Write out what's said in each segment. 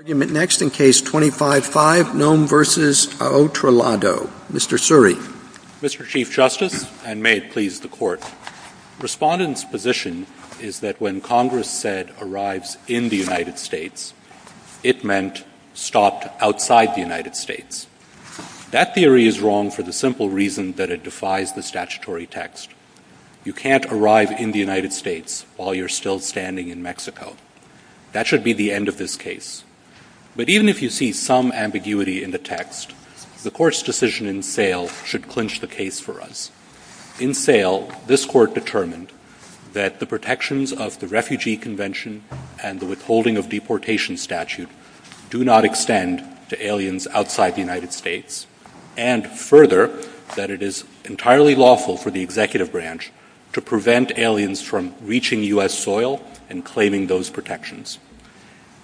Mr. Chief Justice, and may it please the Court, Respondent's position is that when Congress said, arrives in the United States, it meant stopped outside the United States. That theory is wrong for the simple reason that it defies the statutory text. You can't arrive in the United States while you're still standing in Mexico. That should be the end of this case. But even if you see some ambiguity in the text, the Court's decision in Thale should clinch the case for us. In Thale, this Court determined that the protections of the Refugee Convention and the Withholding of Deportation Statute do not extend to aliens outside the United States, and further, that it is entirely lawful for the Executive Branch to prevent aliens from reaching U.S. soil and claiming those protections.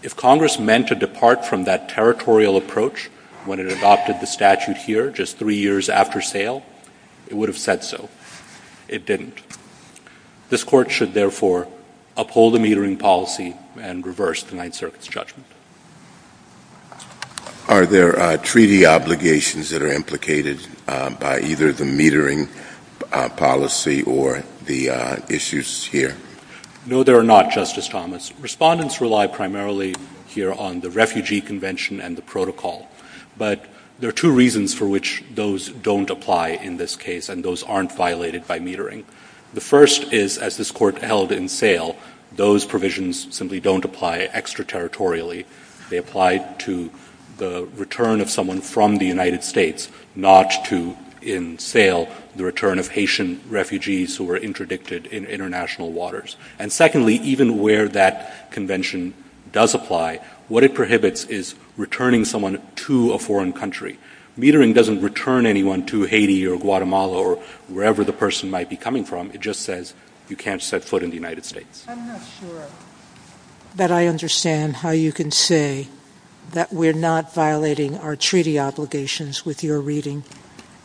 If Congress meant to depart from that territorial approach when it adopted the statute here just three years after Thale, it would have said so. It didn't. This Court should therefore uphold the metering policy and reverse the Ninth Circuit's judgment. Are there treaty obligations that are implicated by either the metering policy or the issues here? No, there are not, Justice Thomas. Respondents rely primarily here on the Refugee Convention and the protocol. But there are two reasons for which those don't apply in this case, and those aren't violated by metering. The first is, as this Court held in Thale, those provisions simply don't apply extraterritorially. They apply to the return of someone from the United States, not to, in Thale, the return of Haitian refugees who were interdicted in international waters. And secondly, even where that convention does apply, what it prohibits is returning someone to a foreign country. Metering doesn't return anyone to Haiti or Guatemala or wherever the person might be coming from. It just says you can't set foot in the United States. I'm not sure that I understand how you can say that we're not violating our treaty obligations with your reading,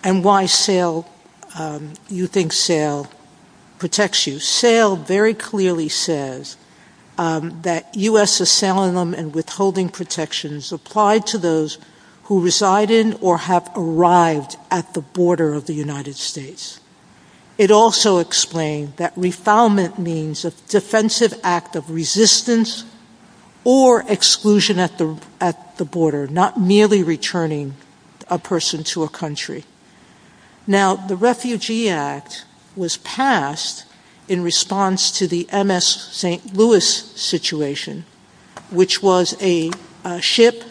and why you think Thale protects you. Thale very clearly says that U.S. asylum and withholding protections apply to those who reside in or have arrived at the border of the United States. It also explained that refoulement means a defensive act of resistance or exclusion at the border, not merely returning a person to a country. Now the Refugee Act was passed in response to the MS St. Louis situation, which was a ship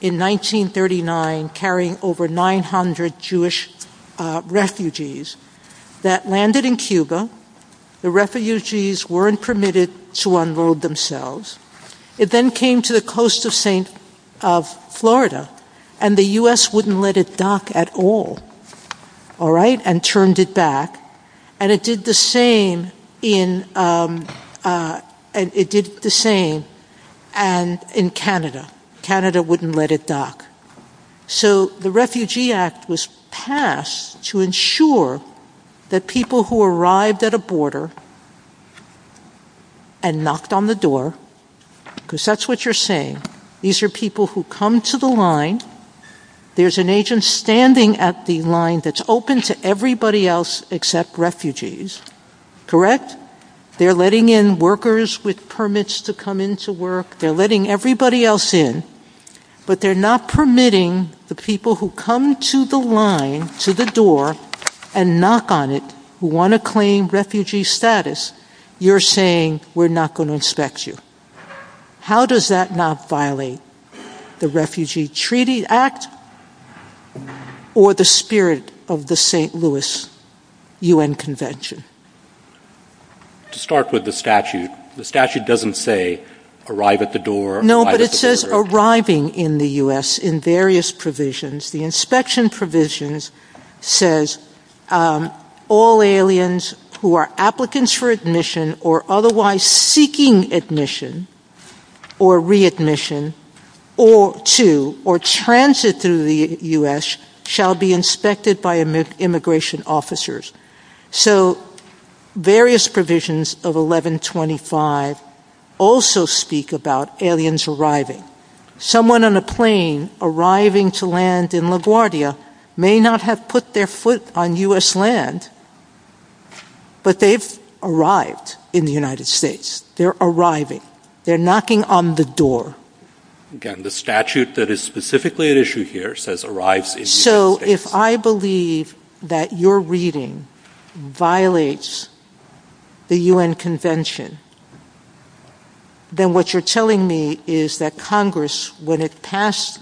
in 1939 carrying over 900 Jewish refugees that landed in Cuba. The refugees weren't permitted to unload themselves. It then came to the coast of Florida, and the U.S. wouldn't let it dock at all and turned it back, and it did the same in Canada. Canada wouldn't let it dock. So the Refugee Act was passed to ensure that people who arrived at a border and knocked on the door, because that's what you're saying, these are people who come to the line, there's an agent standing at the line that's open to everybody else except refugees, correct? They're letting in workers with permits to come into work, they're letting everybody else in, but they're not permitting the people who come to the line, to the door, and knock on it, who want to claim refugee status, you're saying, we're not going to inspect you. How does that not violate the Refugee Treaty Act, or the spirit of the St. Louis U.N. Convention? To start with the statute, the statute doesn't say, arrive at the door, arrive at the border. No, but it says arriving in the U.S. in various provisions. The inspection provisions says, all aliens who are applicants for admission, or otherwise seeking admission, or readmission, or to, or transit through the U.S., shall be inspected by immigration officers. So various provisions of 1125 also speak about aliens arriving. Someone on a plane arriving to land in LaGuardia may not have put their foot on U.S. land, but they've arrived in the United States, they're arriving, they're knocking on the door. Again, the statute that is specifically at issue here says arrives in the United States. So if I believe that your reading violates the U.N. Convention, then what you're telling me is that Congress, when it passed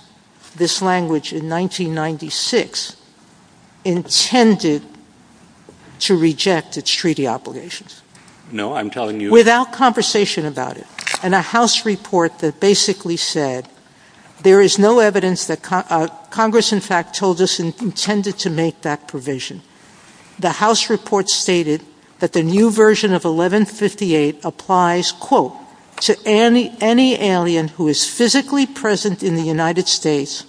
this language in 1996, intended to reject its treaty obligations. No, I'm telling you... Without conversation about it, and a House report that basically said, there is no evidence that Congress, in fact, told us intended to make that provision. The House report stated that the new version of 1158 applies, quote, to any alien who is physically present in the United States,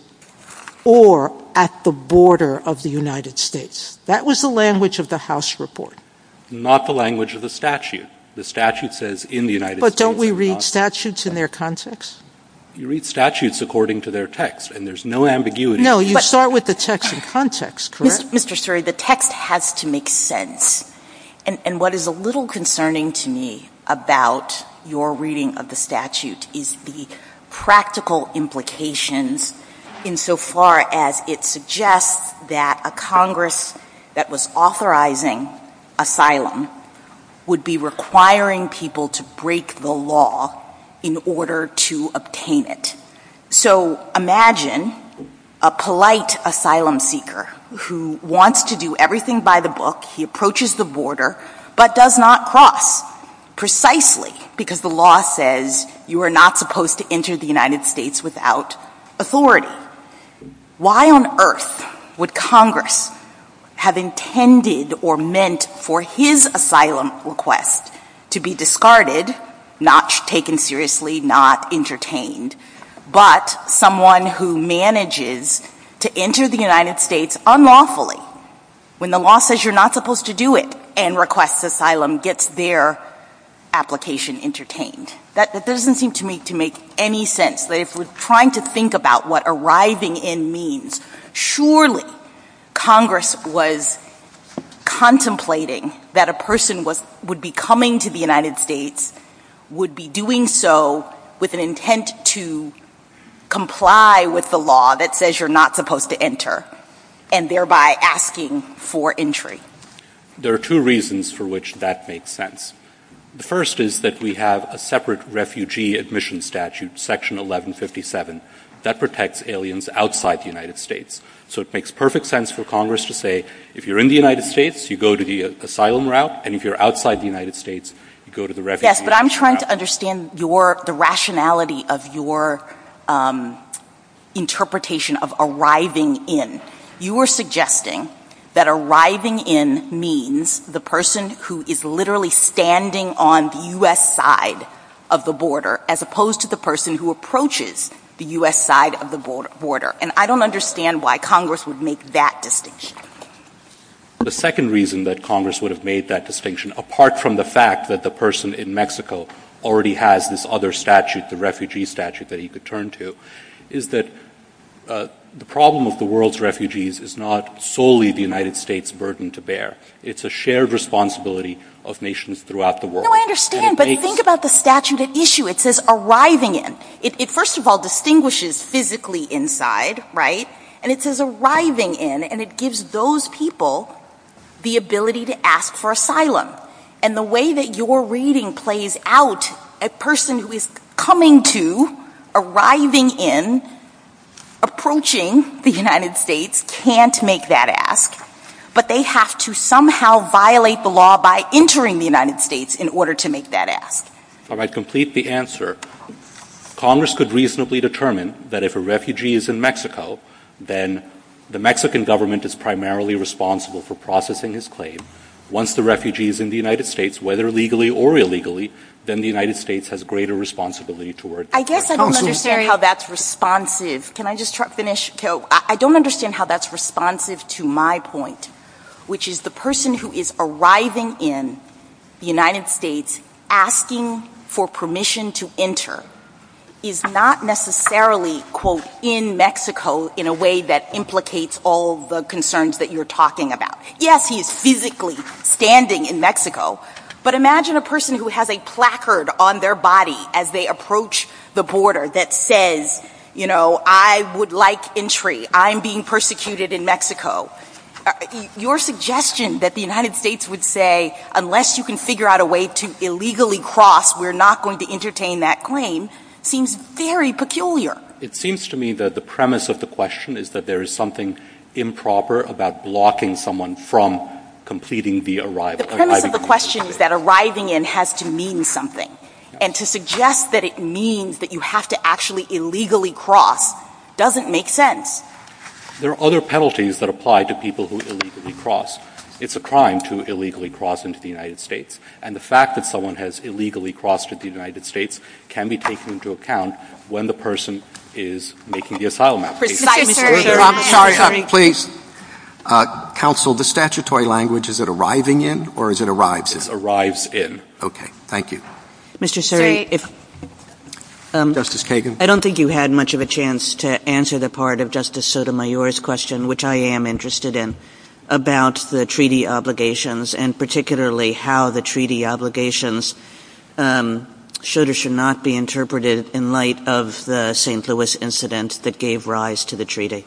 or at the border of the United States. That was the language of the House report. Not the language of the statute. The statute says, in the United States... But don't we read statutes in their context? You read statutes according to their text, and there's no ambiguity. No, you start with the text in context, correct? Mr. Suri, the text has to make sense. And what is a little concerning to me about your reading of the statute is the practical implications insofar as it suggests that a Congress that was authorizing asylum would be requiring people to break the law in order to obtain it. So imagine a polite asylum seeker who wants to do everything by the book, he approaches the border, but does not cross, precisely because the law says you are not supposed to enter the United States without authority. Why on earth would Congress have intended or meant for his asylum request to be discarded, not taken seriously, not entertained, but someone who manages to enter the United States unlawfully, when the law says you're not supposed to do it, and requests asylum, gets their application entertained? That doesn't seem to me to make any sense, but if we're trying to think about what arriving in means, surely Congress was contemplating that a person would be coming to the United States, would be doing so with an intent to comply with the law that says you're not supposed to enter, and thereby asking for entry. There are two reasons for which that makes sense. The first is that we have a separate refugee admission statute, section 1157, that protects aliens outside the United States. So it makes perfect sense for Congress to say, if you're in the United States, you go to the asylum route, and if you're outside the United States, you go to the refugee route. Yes, but I'm trying to understand the rationality of your interpretation of arriving in. You are suggesting that arriving in means the person who is literally standing on the U.S. side of the border, as opposed to the person who approaches the U.S. side of the border, and I don't understand why Congress would make that distinction. The second reason that Congress would have made that distinction, apart from the fact that the person in Mexico already has this other statute, the refugee statute, that he could turn to, is that the problem with the world's refugees is not solely the United States' burden to bear. It's a shared responsibility of nations throughout the world. No, I understand, but think about the statute at issue. It says arriving in. It first of all distinguishes physically inside, right? It says arriving in, and it gives those people the ability to ask for asylum. The way that your reading plays out, a person who is coming to, arriving in, approaching the United States can't make that ask, but they have to somehow violate the law by entering the United States in order to make that ask. All right, complete the answer. Congress could reasonably determine that if a refugee is in Mexico, then the Mexican government is primarily responsible for processing his claim. Once the refugee is in the United States, whether legally or illegally, then the United States has greater responsibility toward- I guess I don't understand how that's responsive. Can I just finish? I don't understand how that's responsive to my point, which is the person who is arriving in the United States asking for permission to enter is not necessarily, quote, in Mexico in a way that implicates all the concerns that you're talking about. Yes, he's physically standing in Mexico, but imagine a person who has a placard on their body as they approach the border that says, you know, I would like entry. I'm being persecuted in Mexico. Your suggestion that the United States would say, unless you can figure out a way to illegally cross, we're not going to entertain that claim seems very peculiar. It seems to me that the premise of the question is that there is something improper about blocking someone from completing the arrival. The premise of the question is that arriving in has to mean something, and to suggest that it means that you have to actually illegally cross doesn't make sense. There are other penalties that apply to people who illegally cross. It's a crime to illegally cross into the United States, and the fact that someone has illegally crossed into the United States can be taken into account when the person is making the asylum application. Please, counsel, the statutory language, is it arriving in, or is it arrives in? It's arrives in. Okay, thank you. Mr. Sury, if... Justice Kagan? I don't think you had much of a chance to answer the part of Justice Sotomayor's question, which I am interested in, about the treaty obligations, and particularly how the treaty obligations should or should not be interpreted in light of the St. Louis incident that gave rise to the treaty.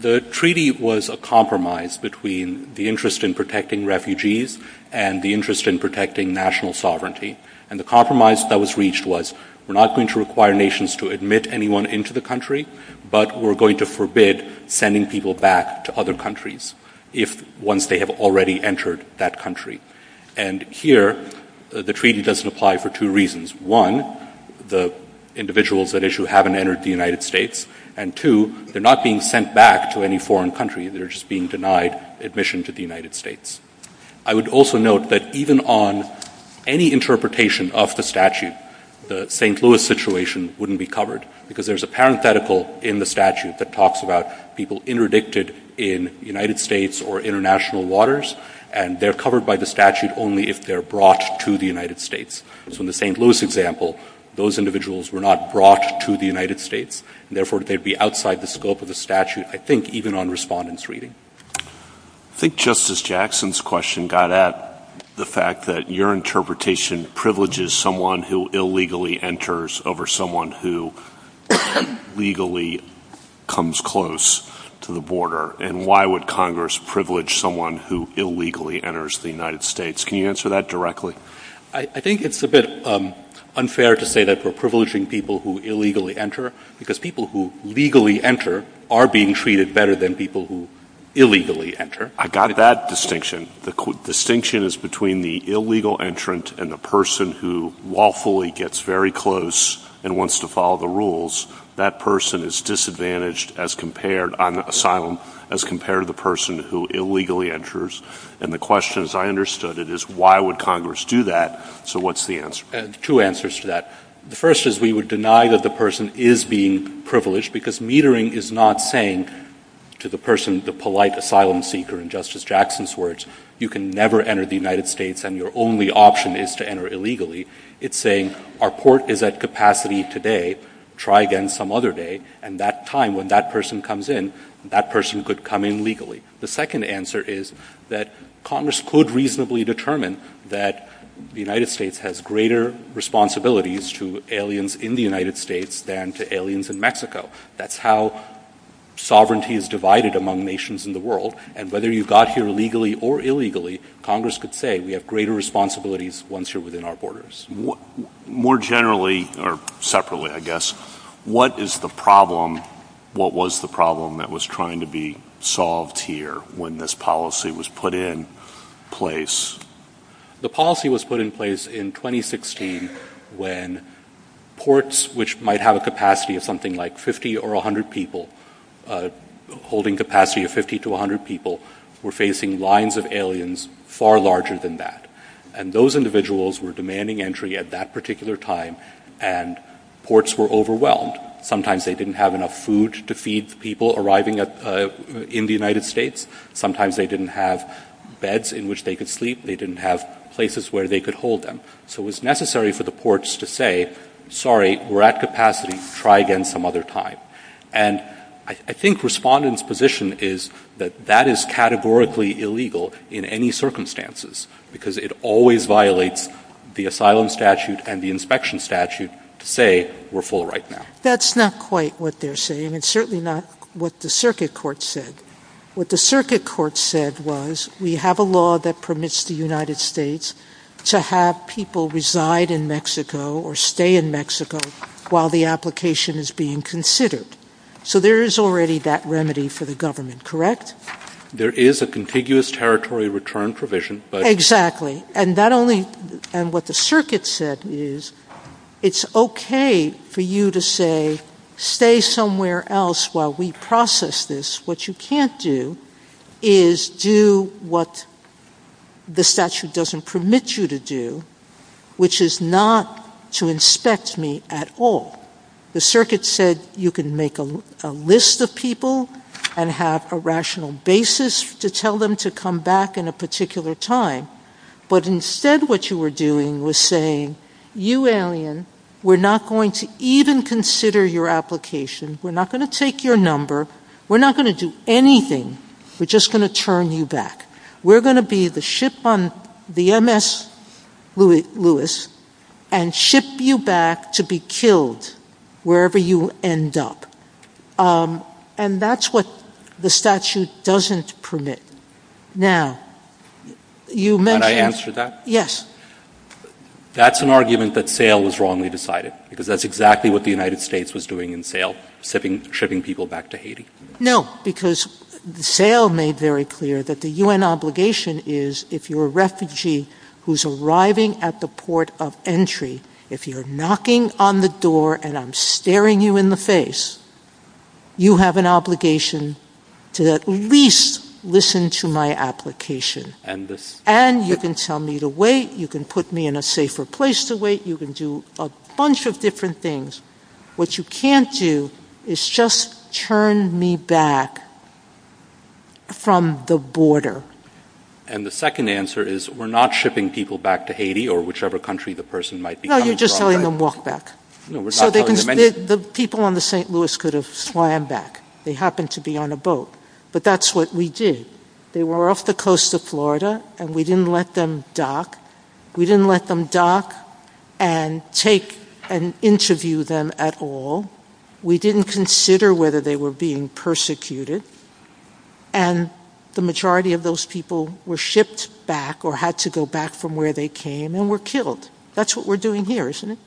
The treaty was a compromise between the interest in protecting refugees and the interest in protecting national sovereignty, and the compromise that was reached was, we're not going to require nations to admit anyone into the country, but we're going to forbid sending people back to other countries if, once they have already entered that country. And here, the treaty doesn't apply for two reasons. One, the individuals at issue haven't entered the United States, and two, they're not being sent back to any foreign country, they're just being denied admission to the United States. I would also note that even on any interpretation of the statute, the St. Louis situation wouldn't be covered, because there's a parenthetical in the statute that talks about people interdicted in the United States or international waters, and they're covered by the statute only if they're brought to the United States. So in the St. Louis example, those individuals were not brought to the United States, and therefore, they'd be outside the scope of the statute, I think, even on respondents' reading. I think Justice Jackson's question got at the fact that your interpretation privileges someone who illegally enters over someone who legally comes close to the border, and why would Congress privilege someone who illegally enters the United States? Can you answer that directly? I think it's a bit unfair to say that we're privileging people who illegally enter, because people who legally enter are being treated better than people who illegally enter. I got that distinction. The distinction is between the illegal entrant and the person who lawfully gets very close and wants to follow the rules. That person is disadvantaged on asylum as compared to the person who illegally enters, and the question, as I understood it, is why would Congress do that? So what's the answer? Two answers to that. The first is we would deny that the person is being privileged, because metering is not saying to the person, the polite asylum seeker, in Justice Jackson's words, you can never enter the United States and your only option is to enter illegally. It's saying our port is at capacity today. Try again some other day, and that time, when that person comes in, that person could come in legally. The second answer is that Congress could reasonably determine that the United States has greater responsibilities to aliens in the United States than to aliens in Mexico. That's how sovereignty is divided among nations in the world, and whether you got here legally or illegally, Congress could say we have greater responsibilities once you're within our borders. More generally, or separately, I guess, what is the problem, what was the problem that was trying to be solved here when this policy was put in place? The policy was put in place in 2016 when ports, which might have a capacity of something like 50 or 100 people, holding capacity of 50 to 100 people, were facing lines of aliens far larger than that. And those individuals were demanding entry at that particular time, and ports were overwhelmed. Sometimes they didn't have enough food to feed people arriving in the United States. Sometimes they didn't have beds in which they could sleep. They didn't have places where they could hold them. So it was necessary for the ports to say, sorry, we're at capacity. Try again some other time. And I think respondents' position is that that is categorically illegal in any circumstances because it always violates the asylum statute and the inspection statute to say we're full right now. That's not quite what they're saying. It's certainly not what the circuit court said. What the circuit court said was we have a law that permits the United States to have people reside in Mexico or stay in Mexico while the application is being considered. So there is already that remedy for the government, correct? There is a contiguous territory return provision. Exactly. And what the circuit said is it's okay for you to say stay somewhere else while we process this. What you can't do is do what the statute doesn't permit you to do, which is not to inspect me at all. The circuit said you can make a list of people and have a rational basis to tell them to come back in a particular time. But instead what you were doing was saying, you alien, we're not going to even consider your application. We're not going to take your number. We're not going to do anything. We're just going to turn you back. We're going to be the ship on the MS Lewis and ship you back to be killed wherever you end up. And that's what the statute doesn't permit. Now, you mentioned- Can I answer that? Yes. That's an argument that sale is wrongly decided because that's exactly what the United States was doing in sale, shipping people back to Haiti. No, because sale made very clear that the UN obligation is if you're a refugee who's arriving at the port of entry, if you're knocking on the door and I'm staring you in the face, you have an obligation to at least listen to my application. And you can tell me to wait. You can put me in a safer place to wait. You can do a bunch of different things. What you can't do is just turn me back from the border. And the second answer is we're not shipping people back to Haiti or whichever country the person might be coming from. No, you're just letting them walk back. The people on the St. Louis could have flammed back. They happened to be on a boat, but that's what we did. They were off the coast of Florida and we didn't let them dock. And take an interview them at all. We didn't consider whether they were being persecuted. And the majority of those people were shipped back or had to go back from where they came and were killed. That's what we're doing here, isn't it?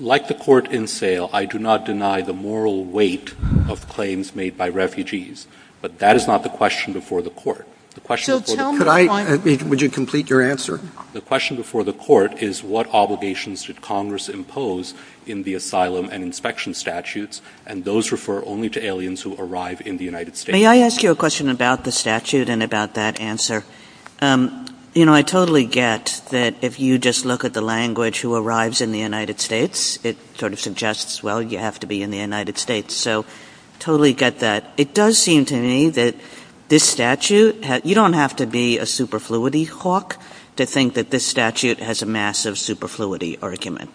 Like the court in sale, I do not deny the moral weight of claims made by refugees. But that is not the question before the court. Would you complete your answer? The question before the court is what obligations should Congress impose in the asylum and inspection statutes and those refer only to aliens who arrive in the United States. May I ask you a question about the statute and about that answer? You know, I totally get that if you just look at the language who arrives in the United States, it sort of suggests, well, you have to be in the United States. So totally get that. It does seem to me that this statute, you don't have to be a superfluity hawk to think that this statute has a massive superfluity argument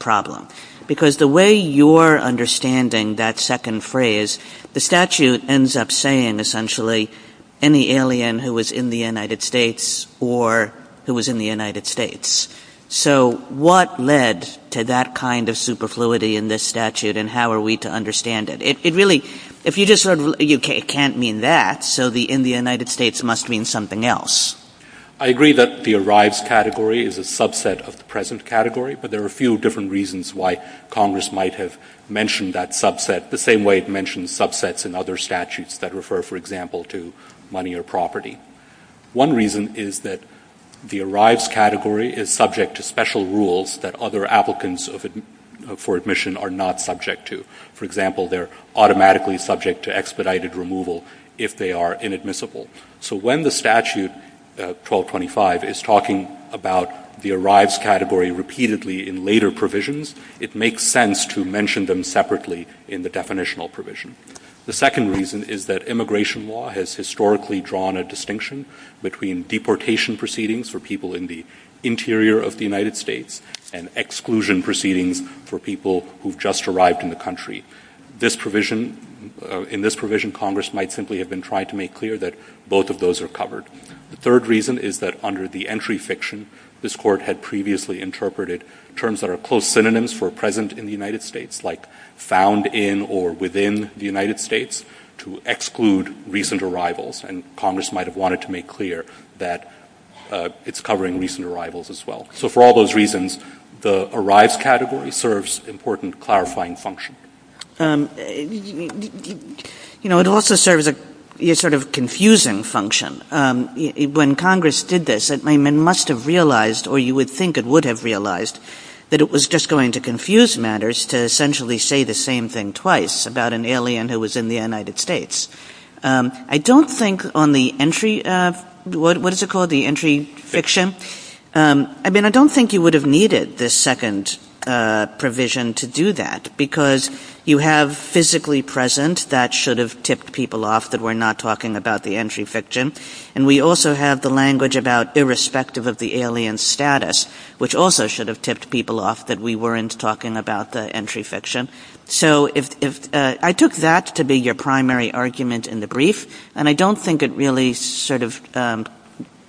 problem. Because the way you're understanding that second phrase, the statute ends up saying essentially any alien who was in the United States or who was in the United States. So what led to that kind of superfluity in this statute and how are we to understand it? It really, if you just sort of, you can't mean that. So the in the United States must mean something else. I agree that the arrives category is a subset of the present category, but there are a few different reasons why Congress might have mentioned that subset the same way it mentioned subsets and other statutes that refer, for example, to money or property. One reason is that the arrives category is subject to special rules that other applicants for admission are not subject to. For example, they're automatically subject to expedited removal if they are inadmissible. So when the statute 1225 is talking about the arrives category repeatedly in later provisions, it makes sense to mention them separately in the definitional provision. The second reason is that immigration law has historically drawn a distinction between deportation proceedings for people in the interior of the United States and exclusion proceedings for people who've just arrived in the country. This provision, in this provision, Congress might simply have been trying to make clear that both of those are covered. The third reason is that under the entry fiction, this court had previously interpreted terms that are close synonyms for present in the United States, like found in or within the United States to exclude recent arrivals, and Congress might have wanted to make clear that it's covering recent arrivals as well. So for all those reasons, the arrives category serves important clarifying function. You know, it also serves a sort of confusing function. When Congress did this, it must have realized or you would think it would have realized that it was just going to confuse matters to essentially say the same thing twice about an alien who was in the United States. I don't think on the entry, what is it called, the entry fiction? I mean, I don't think you would have needed this second provision to do that because you have physically present that should have tipped people off that we're not talking about the entry fiction, and we also have the language about irrespective of the alien status, which also should have tipped people off that we weren't talking about the entry fiction. So I took that to be your primary argument in the brief, and I don't think it really sort of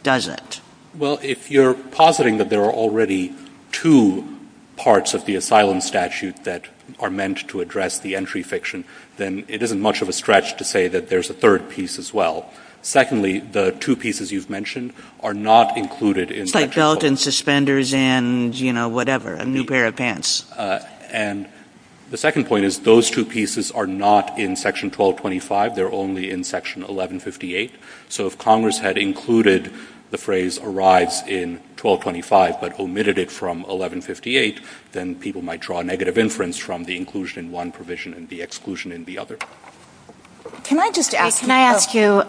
does it. Well, if you're positing that there are already two parts of the asylum statute that are meant to address the entry fiction, then it isn't much of a stretch to say that there's a third piece as well. Secondly, the two pieces you've mentioned are not included in section 1225. It's like belt and suspenders and, you know, whatever, a new pair of pants. And the second point is those two pieces are not in section 1225. They're only in section 1158. So if Congress had included the phrase arrives in 1225 but omitted it from 1158, then people might draw a negative inference from the inclusion in one provision and the exclusion in the other. Can I just ask you,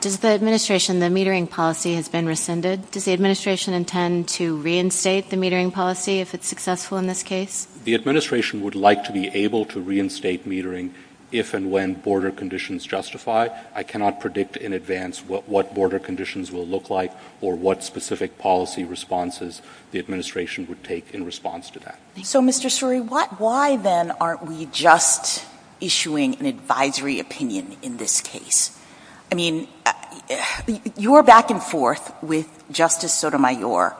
does the administration, the metering policy has been rescinded? Does the administration intend to reinstate the metering policy if it's successful in this case? The administration would like to be able to reinstate metering if and when border conditions justify. I cannot predict in advance what border conditions will look like or what specific policy responses the administration would take in response to that. So Mr. Suri, why then aren't we just issuing an advisory opinion in this case? I mean, your back and forth with Justice Sotomayor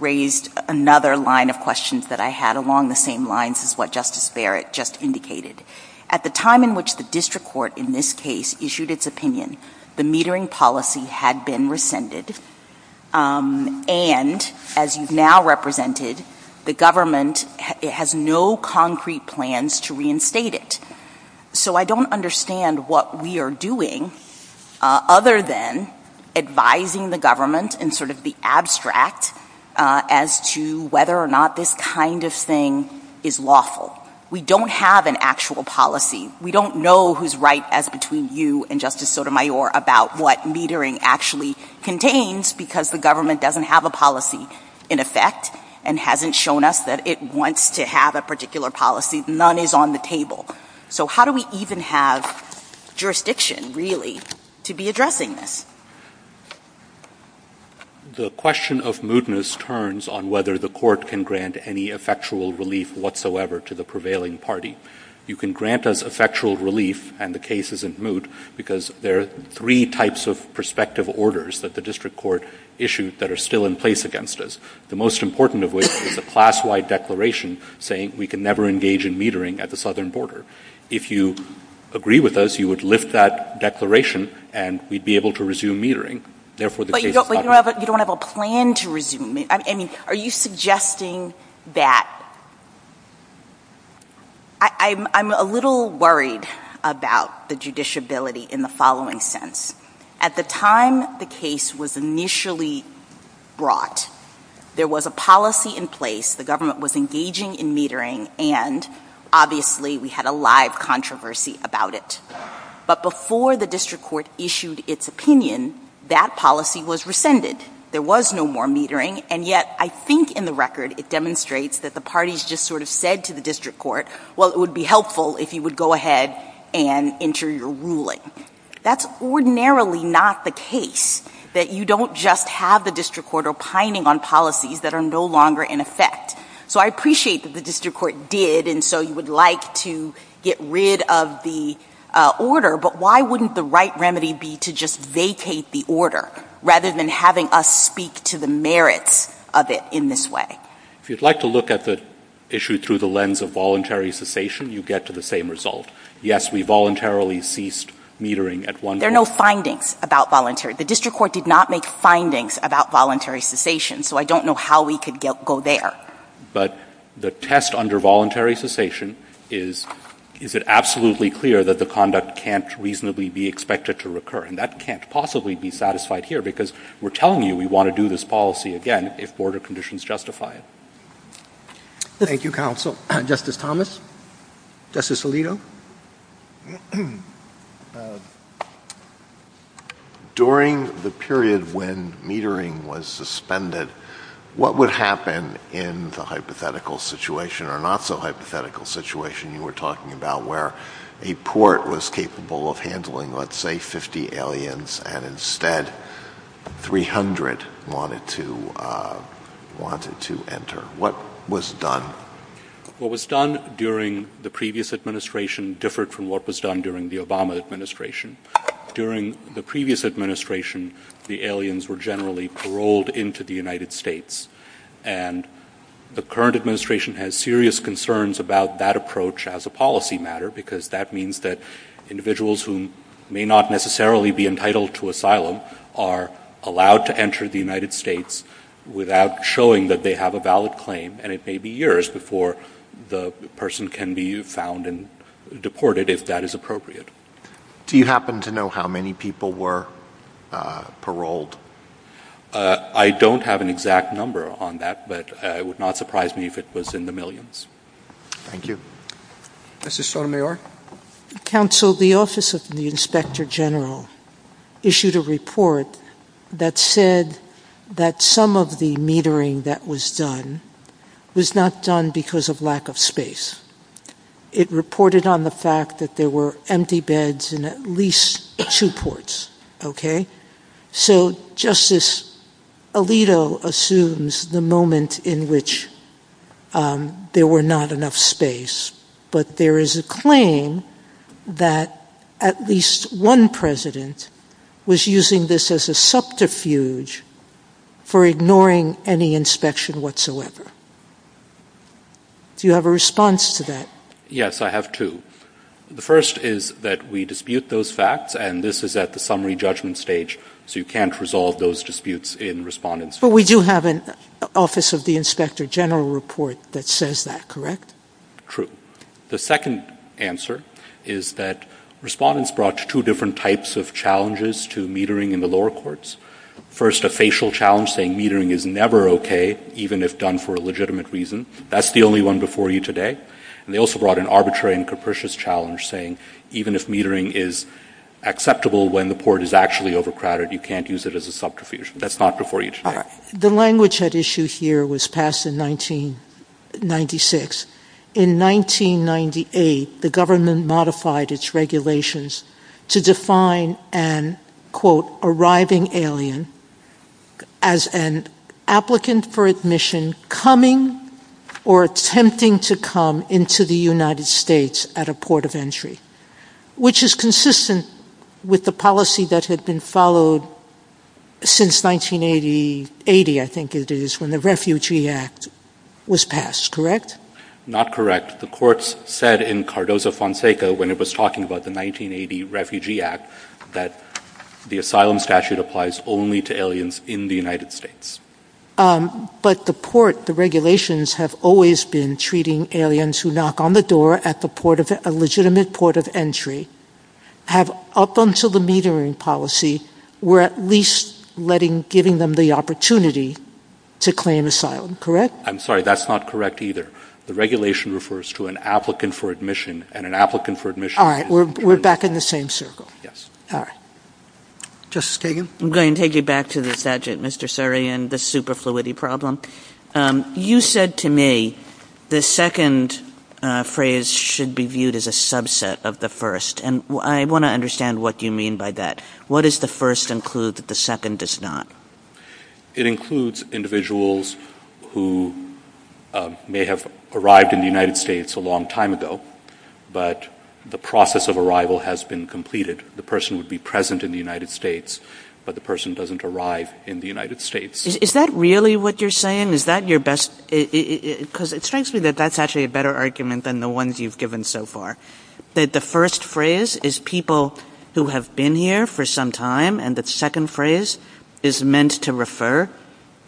raised another line of questions that I had along the same lines as what Justice Barrett just indicated. At the time in which the district court in this case issued its opinion, the metering policy had been rescinded, and as you've now represented, the government has no concrete plans to reinstate it. So I don't understand what we are doing other than advising the government in sort of the abstract as to whether or not this kind of thing is lawful. We don't have an actual policy. We don't know who's right as between you and Justice Sotomayor about what metering actually contains because the government doesn't have a policy in effect and hasn't shown us that it wants to have a particular policy. None is on the table. So how do we even have jurisdiction, really, to be addressing this? The question of mootness turns on whether the court can grant any effectual relief whatsoever to the prevailing party. You can grant us effectual relief and the case isn't moot because there are three types of prospective orders that the district court issued that are still in place against us, the most important of which is a class-wide declaration saying we can never engage in metering at the southern border. If you agree with us, you would lift that declaration and we'd be able to resume metering. Therefore, the case is not moot. But you don't have a plan to resume it. Are you suggesting that – I'm a little worried about the judiciability in the following sense. At the time the case was initially brought, there was a policy in place, the government was engaging in metering, and obviously we had a live controversy about it. But before the district court issued its opinion, that policy was rescinded. There was no more metering, and yet I think in the record it demonstrates that the parties just sort of said to the district court, well, it would be helpful if you would go ahead and enter your ruling. That's ordinarily not the case, that you don't just have the district court opining on policies that are no longer in effect. So I appreciate that the district court did, and so you would like to get rid of the order, but why wouldn't the right remedy be to just vacate the order, rather than having us speak to the merits of it in this way? If you'd like to look at the issue through the lens of voluntary cessation, you get to the same result. Yes, we voluntarily ceased metering at one point. There are no findings about voluntary – the district court did not make findings about voluntary cessation, so I don't know how we could go there. But the test under voluntary cessation is, is it absolutely clear that the conduct can't reasonably be expected to recur, and that can't possibly be satisfied here, because we're telling you we want to do this policy again if order conditions justify it. Thank you, counsel. Justice Thomas? Justice Alito? During the period when metering was suspended, what would happen in the hypothetical situation, or not-so-hypothetical situation you were talking about, where a port was capable of handling, let's say, 50 aliens, and instead 300 wanted to enter? What was done? What was done during the previous administration differed from what was done during the Obama administration. During the previous administration, the aliens were generally paroled into the United States, and the current administration has serious concerns about that approach as a policy matter, because that means that individuals who may not necessarily be entitled to asylum are allowed to enter the United States without showing that they have a valid claim, and it may be years before the person can be found and deported if that is appropriate. Do you happen to know how many people were paroled? I don't have an exact number on that, but it would not surprise me if it was in the millions. Thank you. Justice Sotomayor? Counsel, the Office of the Inspector General issued a report that said that some of the metering that was done was not done because of lack of space. It reported on the fact that there were empty beds in at least two ports, okay? So Justice Alito assumes the moment in which there were not enough space, but there is a claim that at least one president was using this as a subterfuge for ignoring any inspection whatsoever. Do you have a response to that? Yes, I have two. The first is that we dispute those facts, and this is at the summary judgment stage, so you can't resolve those disputes in response. We do have an Office of the Inspector General report that says that, correct? True. The second answer is that respondents brought two different types of challenges to metering in the lower courts. First, a facial challenge saying metering is never okay, even if done for a legitimate reason. That's the only one before you today. And they also brought an arbitrary and capricious challenge saying even if metering is acceptable when the port is actually overcrowded, you can't use it as a subterfuge. That's not before you today. The language at issue here was passed in 1996. In 1998, the government modified its regulations to define an, quote, arriving alien as an applicant for admission coming or attempting to come into the United States at a port of entry, which is consistent with the policy that had been followed since 1980, I think it is, when the Refugee Act was passed, correct? Not correct. The courts said in Cardozo-Fonseca, when it was talking about the 1980 Refugee Act, that the asylum statute applies only to aliens in the United States. But the port, the regulations have always been treating aliens who knock on the door at a legitimate port of entry have, up until the metering policy, were at least giving them the opportunity to claim asylum, correct? I'm sorry. That's not correct either. The regulation refers to an applicant for admission, and an applicant for admission is an alien. We're back in the same circle. Yes. All right. Justice Kagan? I'm going to take you back to the subject, Mr. Sarian, the superfluity problem. You said to me the second phrase should be viewed as a subset of the first, and I want to understand what you mean by that. What does the first include that the second does not? It includes individuals who may have arrived in the United States a long time ago, but the process of arrival has been completed. The person would be present in the United States, but the person doesn't arrive in the United States. Is that really what you're saying? Is that your best... Because it strikes me that that's actually a better argument than the ones you've given so far, that the first phrase is people who have been here for some time, and the second phrase is meant to refer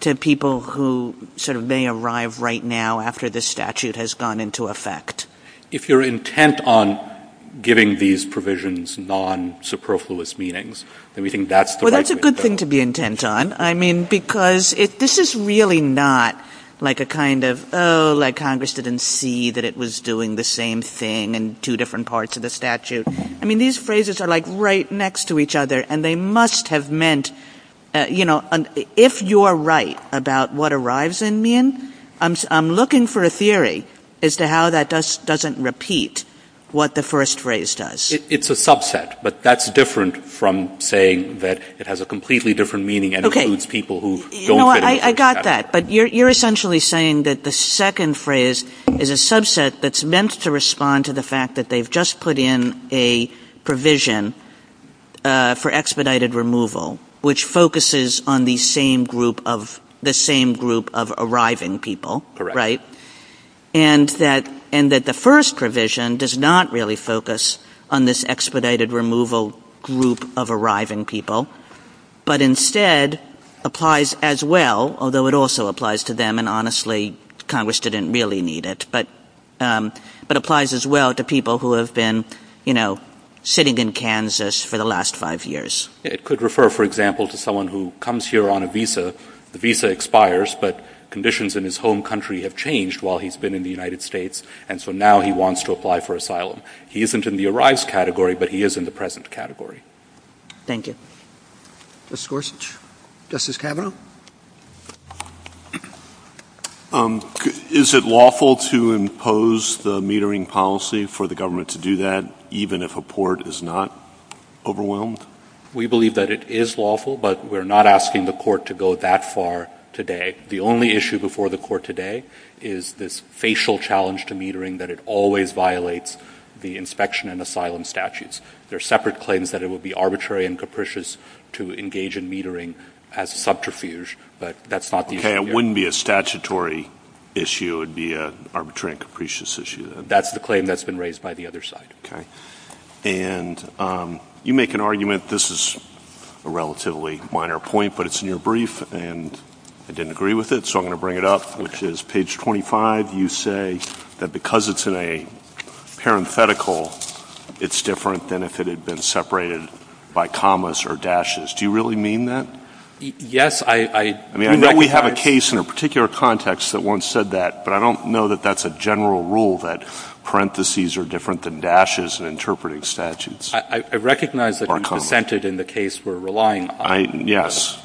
to people who may arrive right now after this statute has gone into effect. If you're intent on giving these provisions non-superfluous meanings, then we think that's the right thing to do. That's a good thing to be intent on, because this is really not like a kind of, oh, Congress didn't see that it was doing the same thing in two different parts of the statute. These phrases are right next to each other, and they must have meant... If you're right about what arrives in mean, I'm looking for a theory as to how that doesn't repeat what the first phrase does. It's a subset, but that's different from saying that it has a completely different meaning and includes people who don't get a chance to have it. I got that, but you're essentially saying that the second phrase is a subset that's meant to respond to the fact that they've just put in a provision for expedited removal, which focuses on the same group of arriving people, and that the first provision does not really focus on this expedited removal group of arriving people, but instead applies as well, although it also applies to them, and honestly, Congress didn't really need it, but applies as well to people who have been sitting in Kansas for the last five years. It could refer, for example, to someone who comes here on a visa, the visa expires, but conditions in his home country have changed while he's been in the United States, and so now he wants to apply for asylum. He isn't in the arrives category, but he is in the present category. Thank you. Justice Gorsuch. Justice Kavanaugh. Is it lawful to impose the metering policy for the government to do that, even if a court is not overwhelmed? We believe that it is lawful, but we're not asking the court to go that far today. The only issue before the court today is this facial challenge to metering, that it always violates the inspection and asylum statutes. There are separate claims that it would be arbitrary and capricious to engage in metering as subterfuge, but that's not the issue. Okay, it wouldn't be a statutory issue, it would be an arbitrary and capricious issue, then? That's the claim that's been raised by the other side. Okay. And you make an argument, this is a relatively minor point, but it's near brief, and I didn't agree with it, so I'm going to bring it up, which is page 25. You say that because it's in a parenthetical, it's different than if it had been separated by commas or dashes. Do you really mean that? Yes, I recognize that. I mean, I know we have a case in a particular context that once said that, but I don't know that that's a general rule, that parentheses are different than dashes in interpreting statutes. I recognize that you consented in the case we're relying on. Yes.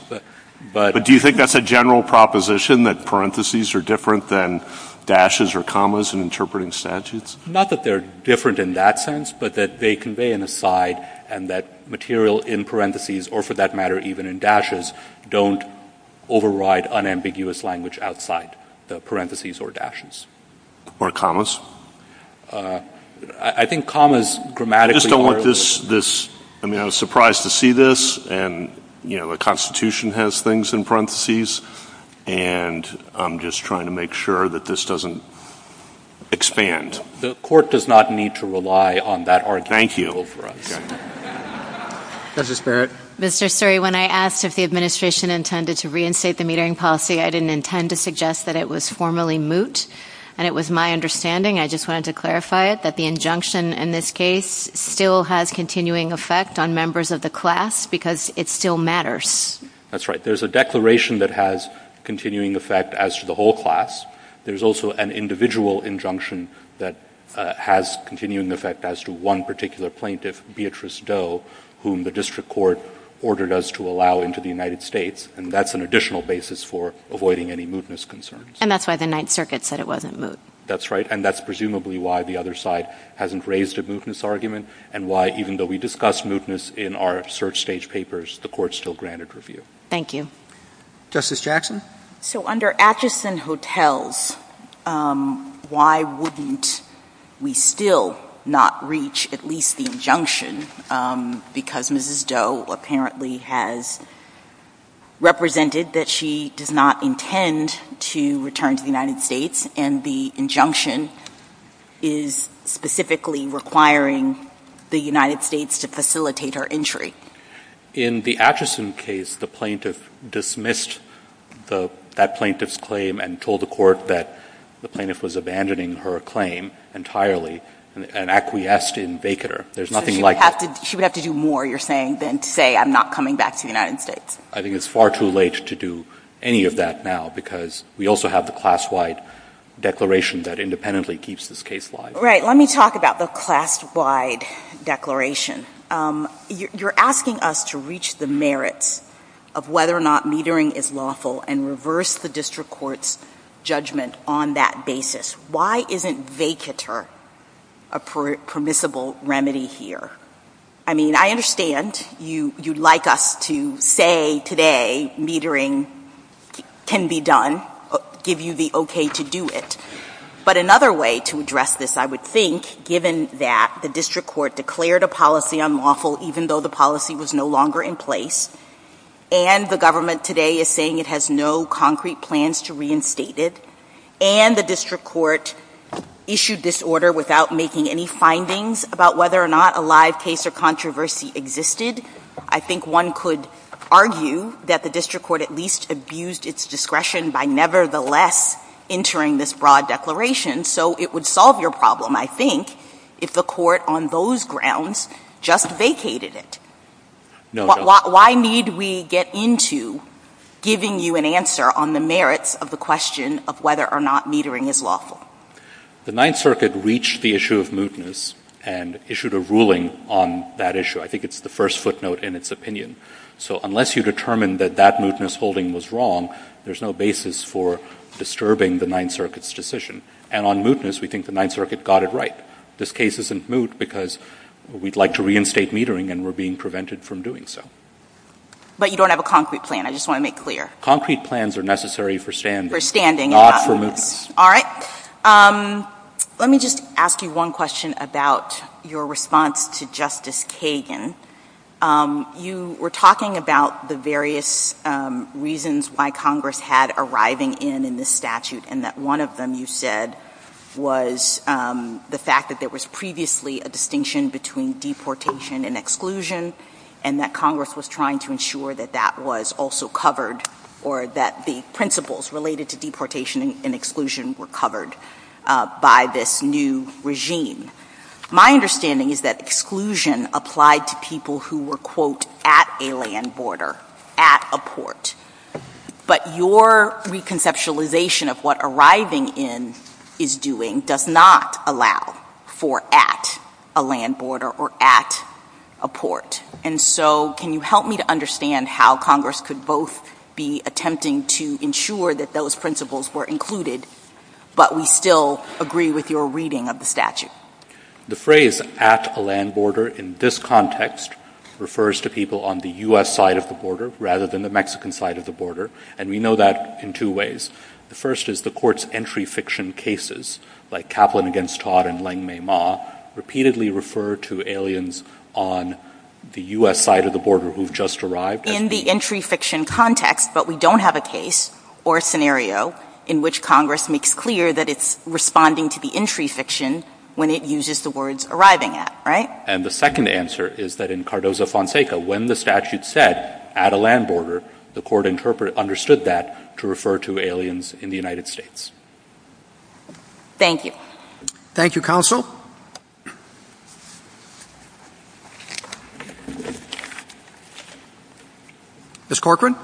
But do you think that's a general proposition, that parentheses are different than dashes or commas in interpreting statutes? Not that they're different in that sense, but that they convey an aside, and that material in parentheses, or for that matter, even in dashes, don't override unambiguous language outside the parentheses or dashes. Or commas? I think commas grammatically are— I just don't want this—I mean, I was surprised to see this, and, you know, the Constitution has things in parentheses, and I'm just trying to make sure that this doesn't expand. The Court does not need to rely on that argument. Thank you. That's a level for us. Justice Barrett? Mr. Suri, when I asked if the administration intended to reinstate the metering policy, I didn't intend to suggest that it was formally moot, and it was my understanding—I just wanted to clarify it—that the injunction in this case still has continuing effect on members of the class because it still matters. That's right. There's a declaration that has continuing effect as to the whole class. There's also an individual injunction that has continuing effect as to one particular plaintiff, Beatrice Doe, whom the District Court ordered us to allow into the United States, and that's an additional basis for avoiding any mootness concerns. And that's why the Ninth Circuit said it wasn't moot. That's right, and that's presumably why the other side hasn't raised a mootness argument and why, even though we discussed mootness in our search stage papers, the Court still granted review. Thank you. Justice Jackson? So, under Atchison Hotels, why wouldn't we still not reach at least the injunction? Because Mrs. Doe apparently has represented that she does not intend to return to the United States, and the injunction is specifically requiring the United States to facilitate her entry. In the Atchison case, the plaintiff dismissed that plaintiff's claim and told the Court that the plaintiff was abandoning her claim entirely and acquiesced in vacater. There's nothing like that. So she would have to do more, you're saying, than to say, I'm not coming back to the United States. I think it's far too late to do any of that now, because we also have the class-wide declaration that independently keeps this case live. Right. Let me talk about the class-wide declaration. You're asking us to reach the merits of whether or not metering is lawful and reverse the district court's judgment on that basis. Why isn't vacater a permissible remedy here? I mean, I understand you'd like us to say today metering can be done, give you the okay to do it. But another way to address this, I would think, given that the district court declared a policy unlawful, even though the policy was no longer in place, and the government today is saying it has no concrete plans to reinstate it, and the district court issued this order without making any findings about whether or not a live case or controversy existed, I think one could argue that the district court at least abused its discretion by nevertheless entering this broad declaration. So it would solve your problem, I think, if the court on those grounds just vacated it. Why need we get into giving you an answer on the merits of the question of whether or not metering is lawful? The Ninth Circuit reached the issue of mootness and issued a ruling on that issue. I think it's the first footnote in its opinion. So unless you determine that that mootness holding was wrong, there's no basis for disturbing the Ninth Circuit's decision. And on mootness, we think the Ninth Circuit got it right. This case isn't moot because we'd like to reinstate metering, and we're being prevented from doing so. But you don't have a concrete plan, I just want to make clear. Concrete plans are necessary for standing, not for mootness. All right. Let me just ask you one question about your response to Justice Kagan. You were talking about the various reasons why Congress had arriving in in this statute, and that one of them, you said, was the fact that there was previously a distinction between deportation and exclusion, and that Congress was trying to ensure that that was also covered, or that the principles related to deportation and exclusion were covered by this new regime. My understanding is that exclusion applied to people who were, quote, at a land border, at a port. But your reconceptualization of what arriving in is doing does not allow for at a land border or at a port. And so, can you help me to understand how Congress could both be attempting to ensure that those principles were included, but we still agree with your reading of the statute? The phrase, at a land border, in this context, refers to people on the U.S. side of the border rather than the Mexican side of the border, and we know that in two ways. The first is the court's entry fiction cases, like Kaplan against Todd and Lengmei Ma, repeatedly refer to aliens on the U.S. side of the border who've just arrived. In the entry fiction context, but we don't have a case or a scenario in which Congress makes clear that it's responding to the entry fiction when it uses the words arriving at, right? And the second answer is that in Cardozo-Fonseca, when the statute said, at a land border, the court understood that to refer to aliens in the United States. Thank you. Thank you, Counsel. Ms. Corcoran?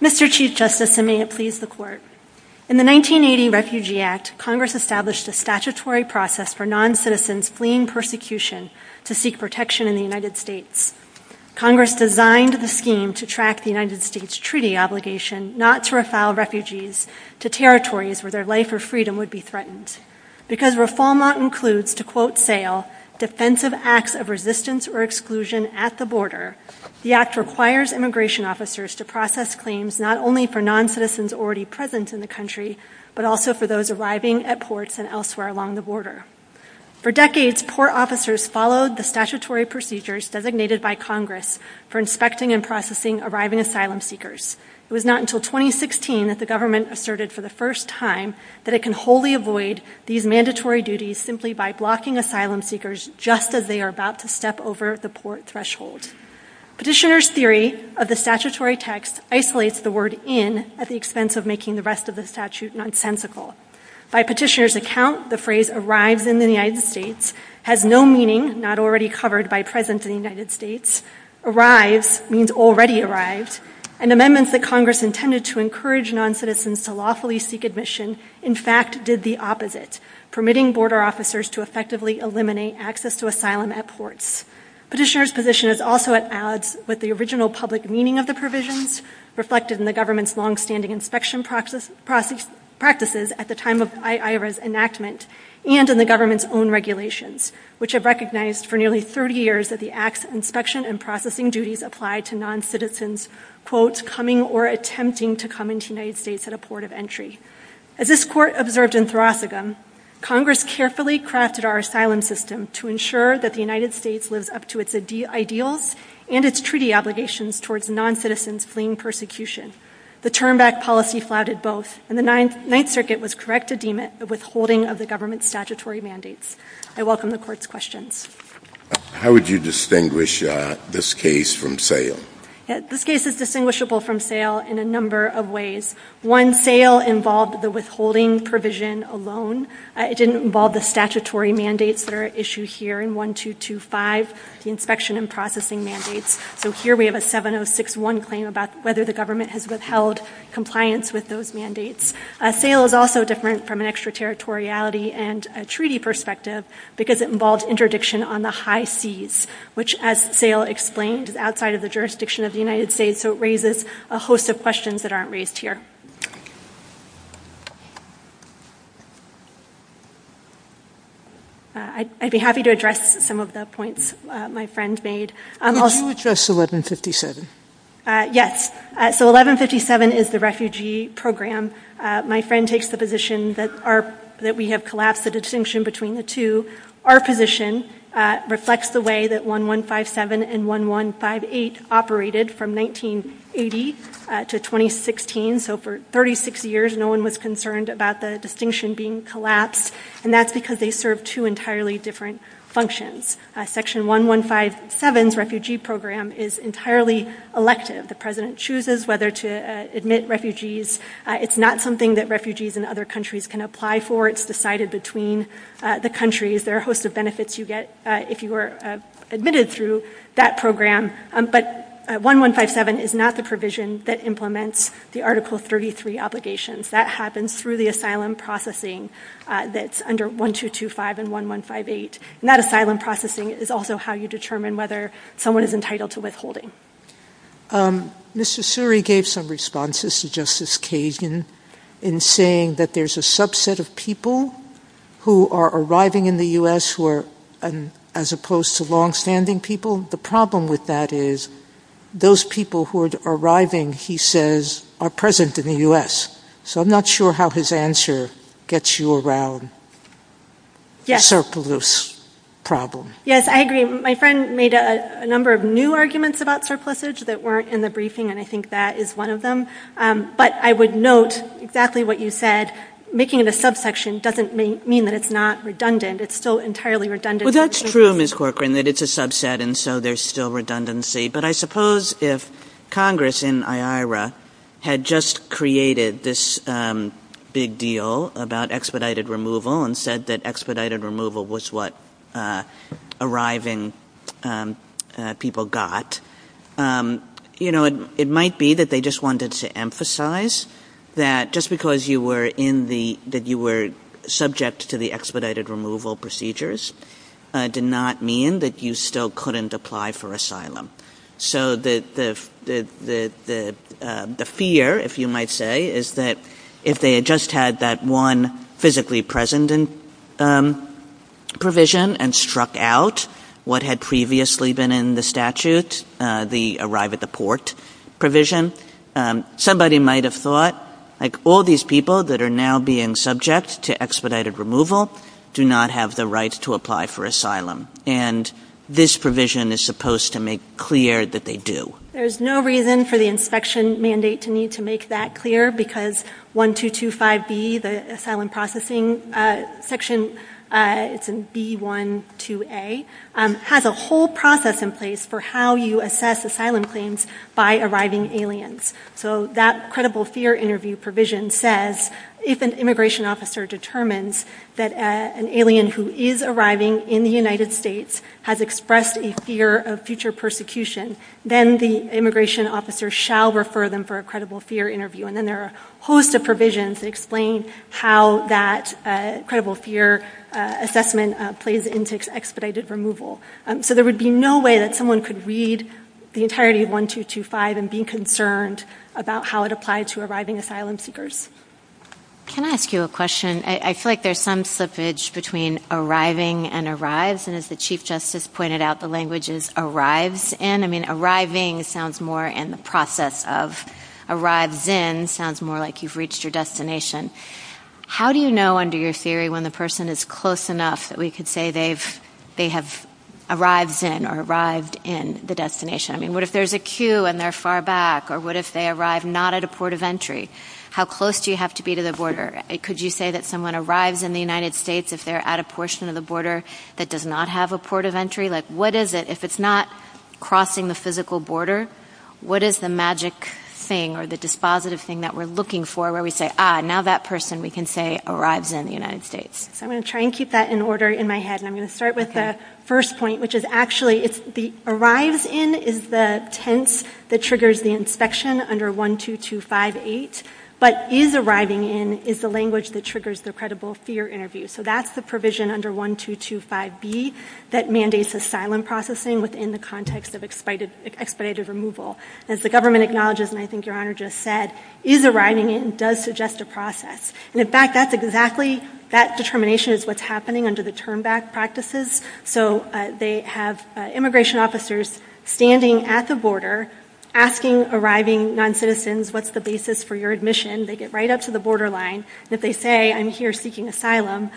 Mr. Chief Justice, and may it please the Court, in the 1980 Refugee Act, Congress established a statutory process for non-citizens fleeing persecution to seek protection in the United States. Congress designed the scheme to track the United States treaty obligation not to refile refugees to territories where their life or freedom would be threatened. Because reform law includes, to quote Sayle, defensive acts of resistance or exclusion at the border, the act requires immigration officers to process claims not only for non-citizens already present in the country, but also for those arriving at ports and elsewhere along the border. For decades, port officers followed the statutory procedures designated by Congress for inspecting and processing arriving asylum seekers. It was not until 2016 that the government asserted for the first time that it can wholly avoid these mandatory duties simply by blocking asylum seekers just as they are about to step over the port threshold. Petitioner's theory of the statutory text isolates the word in at the expense of making the rest of the statute nonsensical. By petitioner's account, the phrase arrives in the United States has no meaning, not already covered by present in the United States. Arrive means already arrived, and amendments that Congress intended to encourage non-citizens to lawfully seek admission, in fact, did the opposite, permitting border officers to effectively eliminate access to asylum at ports. Petitioner's position is also at odds with the original public meaning of the provisions reflected in the government's long-standing inspection practices at the time of I.I.R.A.'s enactment and in the government's own regulations, which have recognized for nearly 30 years that the act's inspection and processing duties apply to non-citizens, quote, coming or attempting to come into the United States at a port of entry. As this court observed in Thrasogam, Congress carefully crafted our asylum system to ensure that the United States lives up to its ideals and its treaty obligations towards non-citizens fleeing persecution. The turn-back policy flouted both, and the Ninth Circuit was correct to deem it a withholding of the government's statutory mandates. I welcome the court's questions. How would you distinguish this case from sale? This case is distinguishable from sale in a number of ways. One, sale involved the withholding provision alone. It didn't involve the statutory mandates that are issued here in 1225, the inspection and processing mandates. So here we have a 7061 claim about whether the government has withheld compliance with those mandates. Sale is also different from an extraterritoriality and a treaty perspective because it involves interdiction on the high seas, which as sale explained, is outside of the jurisdiction of the United States. So it raises a host of questions that aren't raised here. I'd be happy to address some of the points my friend made. Would you address 1157? Yes. So 1157 is the refugee program. My friend takes the position that we have collapsed the distinction between the two. Our position reflects the way that 1157 and 1158 operated from 1980 to 2016. So for 36 years, no one was concerned about the distinction being collapsed. And that's because they serve two entirely different functions. Section 1157's refugee program is entirely elective. The president chooses whether to admit refugees. It's not something that refugees in other countries can apply for. It's decided between the countries. There are a host of benefits you get if you were admitted through that program. But 1157 is not the provision that implements the Article 33 obligations. That happens through the asylum processing that's under 1225 and 1158. And that asylum processing is also how you determine whether someone is entitled to withholding. Mr. Suri gave some responses to Justice Kagan in saying that there's a subset of people who are arriving in the U.S. as opposed to longstanding people. The problem with that is those people who are arriving, he says, are present in the U.S. So I'm not sure how his answer gets you around the surplus problem. Yes, I agree. My friend made a number of new arguments about surplusage that weren't in the briefing, and I think that is one of them. But I would note exactly what you said. Making it a subsection doesn't mean that it's not redundant. It's still entirely redundant. Well, that's true, Ms. Corcoran, that it's a subset and so there's still redundancy. But I suppose if Congress in IARA had just created this big deal about expedited removal and said that expedited removal was what arriving people got, it might be that they just wanted to emphasize that just because you were subject to the expedited removal procedures did not mean that you still couldn't apply for asylum. So the fear, if you might say, is that if they had just had that one physically present provision and struck out what had previously been in the statute, the arrive at the port provision, somebody might have thought, like all these people that are now being subject to expedited removal do not have the right to apply for asylum. And this provision is supposed to make clear that they do. There's no reason for the inspection mandate to need to make that clear because 1225B, the asylum processing section, it's in B12A, has a whole process in place for how you assess asylum claims by arriving aliens. So that credible fear interview provision says if an immigration officer determines that an alien who is arriving in the United States has expressed a fear of future persecution, then the immigration officer shall refer them for a credible fear interview. And then there are a host of provisions that explain how that credible fear assessment plays into expedited removal. So there would be no way that someone could read the entirety of 1225 and be concerned about how it applied to arriving asylum seekers. Can I ask you a question? I feel like there's some slippage between arriving and arrives. And as the Chief Justice pointed out, the language is arrives in. I mean, arriving sounds more in the process of. Arrives in sounds more like you've reached your destination. How do you know under your theory when the person is close enough that we could say they have arrived in or arrived in the destination? I mean, what if there's a queue and they're far back? Or what if they arrive not at a port of entry? How close do you have to be to the border? Could you say that someone arrives in the United States if they're at a portion of the border that does not have a port of entry? Like, what is it? If it's not crossing the physical border, what is the magic thing or the dispositive thing that we're looking for where we say, ah, now that person we can say arrives in the United States? I'm going to try and keep that in order in my head, and I'm going to start with the first point, which is actually arrives in is the tense that triggers the inspection under 12258, but is arriving in is the language that triggers the credible fear interview. So that's the provision under 1225B that mandates asylum processing within the context of expedited removal. As the government acknowledges, and I think Your Honor just said, is arriving in does suggest a process. And, in fact, that's exactly, that determination is what's happening under the turn-back practices. So they have immigration officers standing at the border asking arriving noncitizens, what's the basis for your admission? They get right up to the borderline, and if they say, I'm here seeking asylum,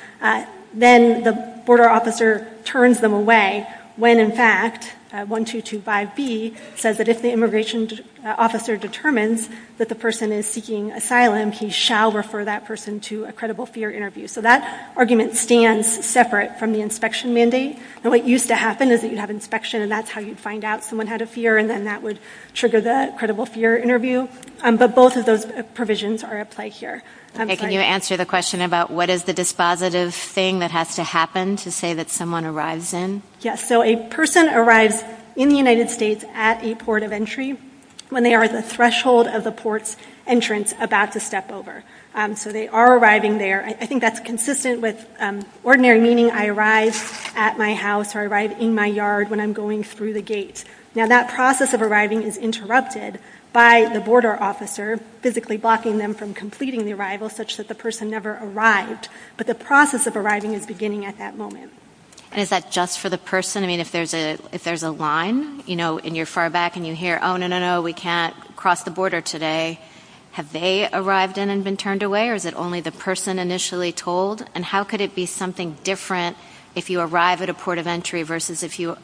then the border officer turns them away when, in fact, 1225B says that if the immigration officer determines that the person is seeking asylum, he shall refer that person to a credible fear interview. So that argument stands separate from the inspection mandate. And what used to happen is that you'd have inspection, and that's how you'd find out someone had a fear, and then that would trigger the credible fear interview. But both of those provisions are at play here. Okay. Can you answer the question about what is the dispositive thing that has to happen to say that someone arrives in? Yes. So a person arrives in the United States at a port of entry when there is a threshold of the port's entrance about to step over. So they are arriving there. I think that's consistent with ordinary meaning, I arrive at my house or I arrive in my yard when I'm going through the gate. Now, that process of arriving is interrupted by the border officer physically blocking them from completing the arrival such that the person never arrived. But the process of arriving is beginning at that moment. And is that just for the person? I mean, if there's a line, you know, and you're far back and you hear, oh, no, no, no, we can't cross the border today, have they arrived in and been turned away, or is it only the person initially told? And how could it be something different if you arrive at a port of entry versus if you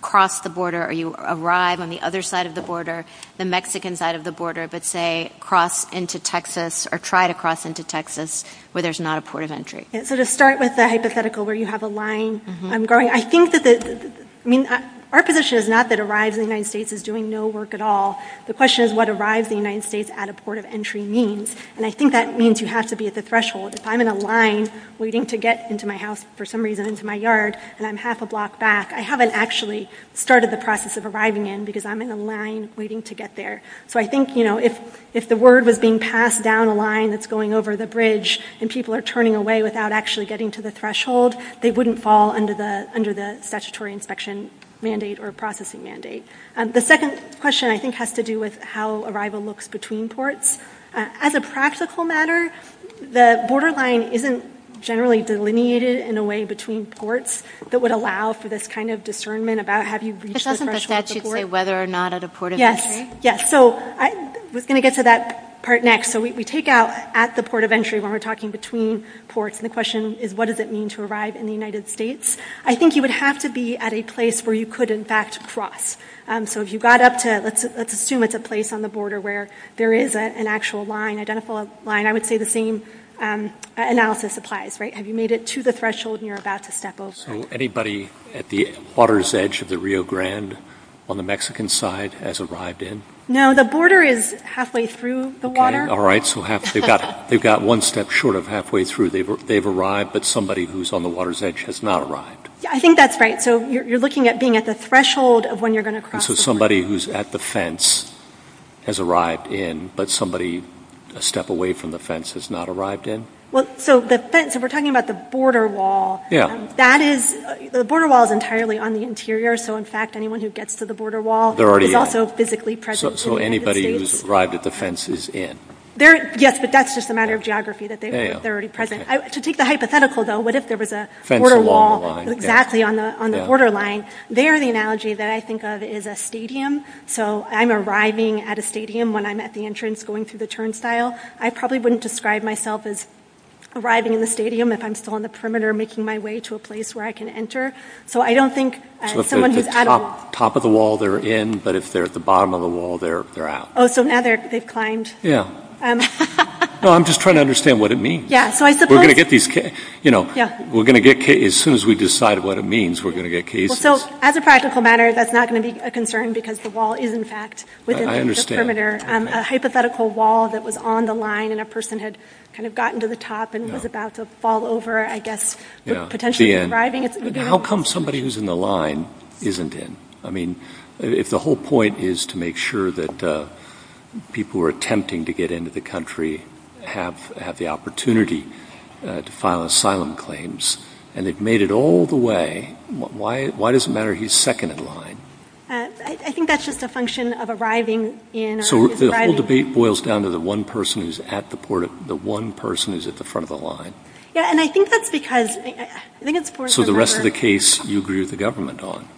cross the border or you arrive on the other side of the border, the Mexican side of the border, but say cross into Texas or try to cross into Texas where there's not a port of entry? So to start with the hypothetical where you have a line going, I think that the, I mean, our position is not that arriving in the United States is doing no work at all. The question is what arrives in the United States at a port of entry means. And I think that means you have to be at the threshold. If I'm in a line waiting to get into my house, for some reason into my yard, and I'm half a block back, I haven't actually started the process of arriving in because I'm in a line waiting to get there. So I think, you know, if the word was being passed down the line that's going over the bridge and people are turning away without actually getting to the threshold, they wouldn't fall under the statutory inspection mandate or processing mandate. The second question, I think, has to do with how arrival looks between ports. As a practical matter, the borderline isn't generally delineated in a way between ports that would allow for this kind of discernment about have you reached the threshold? It doesn't say whether or not at a port of entry. Yes. Yes. So we're going to get to that part next. So we take out at the port of entry when we're talking between ports, and the question is what does it mean to arrive in the United States? I think you would have to be at a place where you could, in fact, cross. So if you got up to, let's assume it's a place on the border where there is an actual line, identical line, I would say the same analysis applies, right? Have you made it to the threshold and you're about to step over? So anybody at the water's edge of the Rio Grande on the Mexican side has arrived in? No, the border is halfway through the water. All right. So they've got one step short of halfway through. They've arrived, but somebody who's on the water's edge has not arrived. I think that's right. So you're looking at being at the threshold of when you're going to cross. So somebody who's at the fence has arrived in, but somebody a step away from the fence has not arrived in? So we're talking about the border wall. Yes. The border wall is entirely on the interior, so, in fact, anyone who gets to the border wall is also physically present in the United States. So anybody who's arrived at the fence is in? Yes, but that's just a matter of geography, that they're already present. To take the hypothetical, though, what if there was a border wall exactly on the border line? There the analogy that I think of is a stadium. So I'm arriving at a stadium when I'm at the entrance going through the turnstile. I probably wouldn't describe myself as arriving in the stadium if I'm still on the perimeter making my way to a place where I can enter. So if they're at the top of the wall, they're in, but if they're at the bottom of the wall, they're out. Oh, so now they've climbed. I'm just trying to understand what it means. As soon as we decide what it means, we're going to get cases. As a practical matter, that's not going to be a concern because the wall is, in fact, within the perimeter. A hypothetical wall that was on the line and a person had gotten to the top and was about to fall over, How come somebody who's in the line isn't in? I mean, if the whole point is to make sure that people who are attempting to get into the country have had the opportunity to file asylum claims and they've made it all the way, why does it matter he's second in line? I think that's just a function of arriving in. So the whole debate boils down to the one person who's at the front of the line. Yeah, and I think that's because... So the rest of the case, you agree with the government on?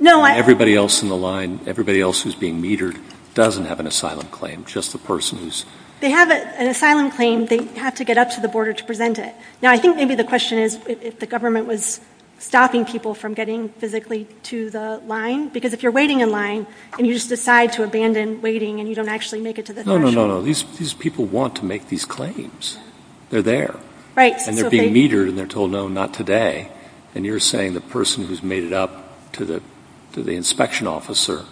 No, I... Everybody else in the line, everybody else who's being metered doesn't have an asylum claim, just the person who's... They have an asylum claim, they have to get up to the border to present it. Now, I think maybe the question is if the government was stopping people from getting physically to the line, because if you're waiting in line and you just decide to abandon waiting and you don't actually make it to the... No, no, no, these people want to make these claims. They're there. Right. And they're being metered and they're told, no, not today. And you're saying the person who's made it up to the inspection officer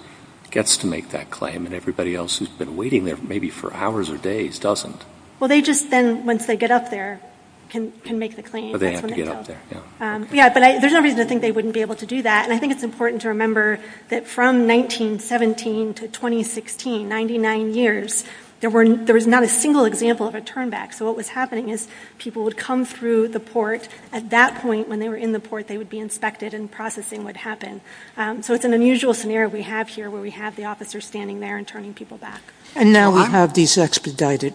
gets to make that claim and everybody else who's been waiting there maybe for hours or days doesn't. Well, they just then, once they get up there, can make the claim. So they have to get up there, yeah. Yeah, but there's no reason to think they wouldn't be able to do that. And I think it's important to remember that from 1917 to 2016, 99 years, there was not a single example of a turn back. So what was happening is people would come through the port. At that point, when they were in the port, they would be inspected and processing would happen. So it's an unusual scenario we have here where we have the officer standing there and turning people back. And now we have these expedited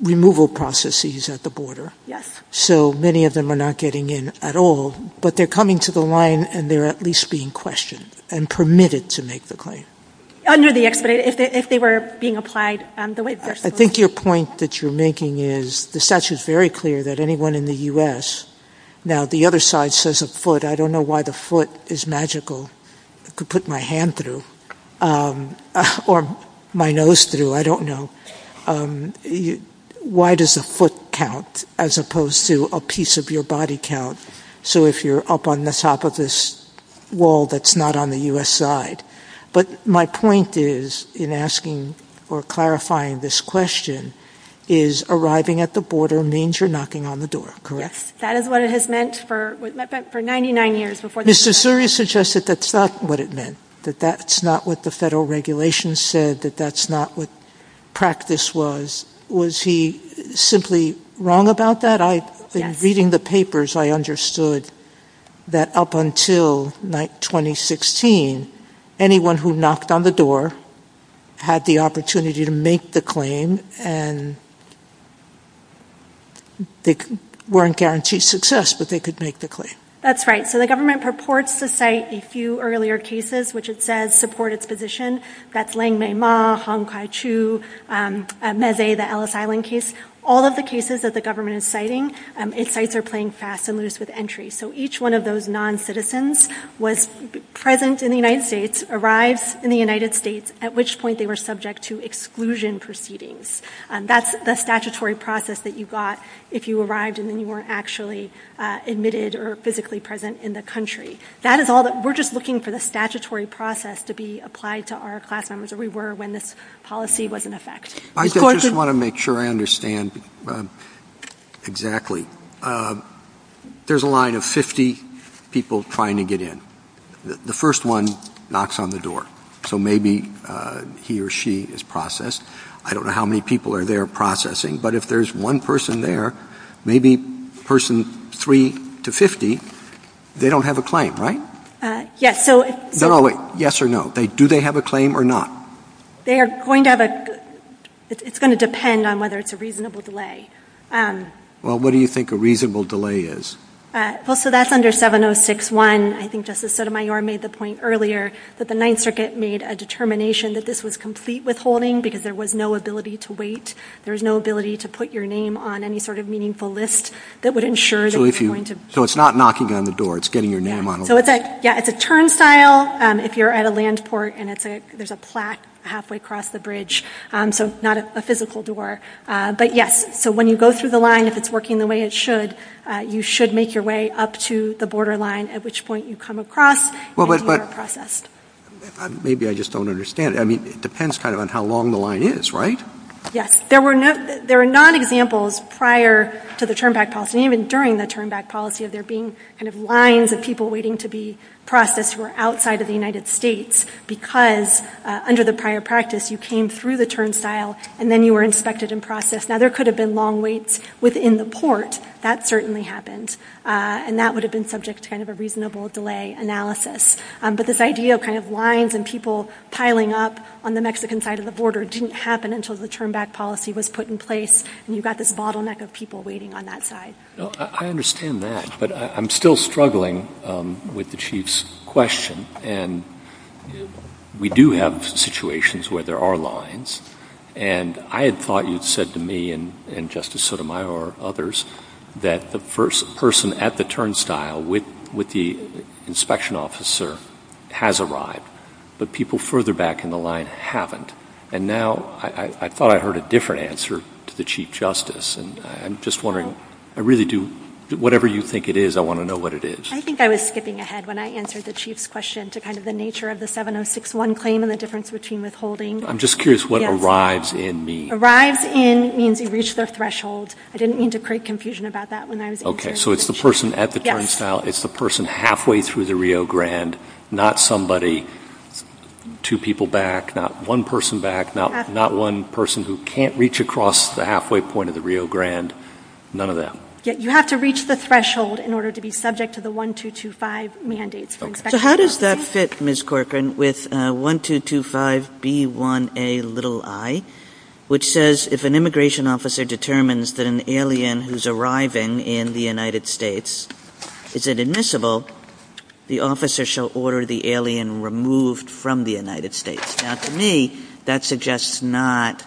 removal processes at the border. Yes. So many of them are not getting in at all, but they're coming to the line and they're at least being questioned and permitted to make the claim. Under the expedited, if they were being applied the way they were supposed to. I think your point that you're making is the statute is very clear that anyone in the U.S. Now, the other side says a foot. I don't know why the foot is magical. I could put my hand through or my nose through. I don't know. Why does a foot count as opposed to a piece of your body count? So if you're up on the top of this wall that's not on the U.S. side. But my point is, in asking or clarifying this question, is arriving at the border means you're knocking on the door, correct? That is what it has meant for 99 years. Mr. Suri suggested that's not what it meant, that that's not what the federal regulations said, that that's not what practice was. Was he simply wrong about that? In reading the papers, I understood that up until 2016, anyone who knocked on the door had the opportunity to make the claim and they weren't guaranteed success, but they could make the claim. That's right. So the government purports to cite a few earlier cases, which it says support its position. That's Leng Mei-Ma, Hong Kwai-Chu, Meze, the Ellis Island case. All of the cases that the government is citing, it cites are playing fast and loose with entry. So each one of those non-citizens was present in the United States, arrived in the United States, at which point they were subject to exclusion proceedings. That's the statutory process that you got if you arrived and then you weren't actually admitted or physically present in the country. We're just looking for the statutory process to be applied to our class members or we were when this policy was in effect. I just want to make sure I understand exactly. There's a line of 50 people trying to get in. The first one knocks on the door, so maybe he or she is processed. I don't know how many people are there processing, but if there's one person there, maybe person 3 to 50, they don't have a claim, right? Yes. Yes or no? Do they have a claim or not? It's going to depend on whether it's a reasonable delay. What do you think a reasonable delay is? That's under 706-1. I think Justice Sotomayor made the point earlier that the Ninth Circuit made a determination that this was complete withholding because there was no ability to wait. So it's not knocking on the door. It's getting your name on it. It's a turnstile if you're at a land port and there's a plaque halfway across the bridge, so it's not a physical door. But yes, so when you go through the line, if it's working the way it should, you should make your way up to the borderline at which point you come across and you are processed. Maybe I just don't understand. It depends on how long the line is, right? Yes. There are non-examples prior to the turnback policy, even during the turnback policy, of there being kind of lines of people waiting to be processed who are outside of the United States because under the prior practice you came through the turnstile and then you were inspected and processed. Now there could have been long waits within the port. That certainly happened, and that would have been subject to kind of a reasonable delay analysis. But this idea of kind of lines and people piling up on the Mexican side of the border didn't happen until the turnback policy was put in place, and you've got this bottleneck of people waiting on that side. I understand that, but I'm still struggling with the Chief's question. And we do have situations where there are lines, and I had thought you had said to me and Justice Sotomayor and others that the first person at the turnstile with the inspection officer has arrived, but people further back in the line haven't. And now I thought I heard a different answer to the Chief Justice, and I'm just wondering, I really do, whatever you think it is, I want to know what it is. I think I was skipping ahead when I answered the Chief's question to kind of the nature of the 7061 claim and the difference between withholding. I'm just curious what arrives in means. Arrives in means you reach the threshold. I didn't mean to create confusion about that when I was answering the question. Okay, so it's the person at the turnstile, it's the person halfway through the Rio Grande, not somebody, two people back, not one person back, not one person who can't reach across the halfway point of the Rio Grande, none of that. You have to reach the threshold in order to be subject to the 1225 mandate. So how does that fit, Ms. Corcoran, with 1225B1Ai, which says if an immigration officer determines that an alien who's arriving in the United States is inadmissible, the officer shall order the alien removed from the United States. Now, to me, that suggests not,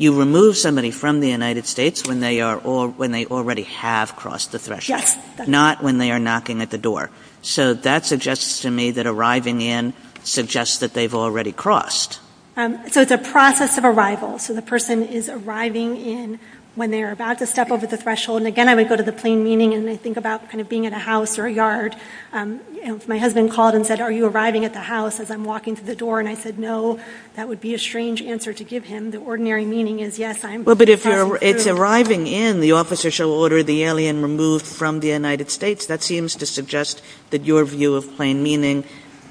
you remove somebody from the United States when they already have crossed the threshold, not when they are knocking at the door. So that suggests to me that arriving in suggests that they've already crossed. So it's a process of arrival. So the person is arriving in when they are about to step over the threshold, and again, I would go to the plain meaning and think about being in a house or a yard. If my husband called and said, are you arriving at the house as I'm walking to the door, and I said no, that would be a strange answer to give him. The ordinary meaning is yes, I am. But if it's arriving in, the officer shall order the alien removed from the United States, that seems to suggest that your view of plain meaning,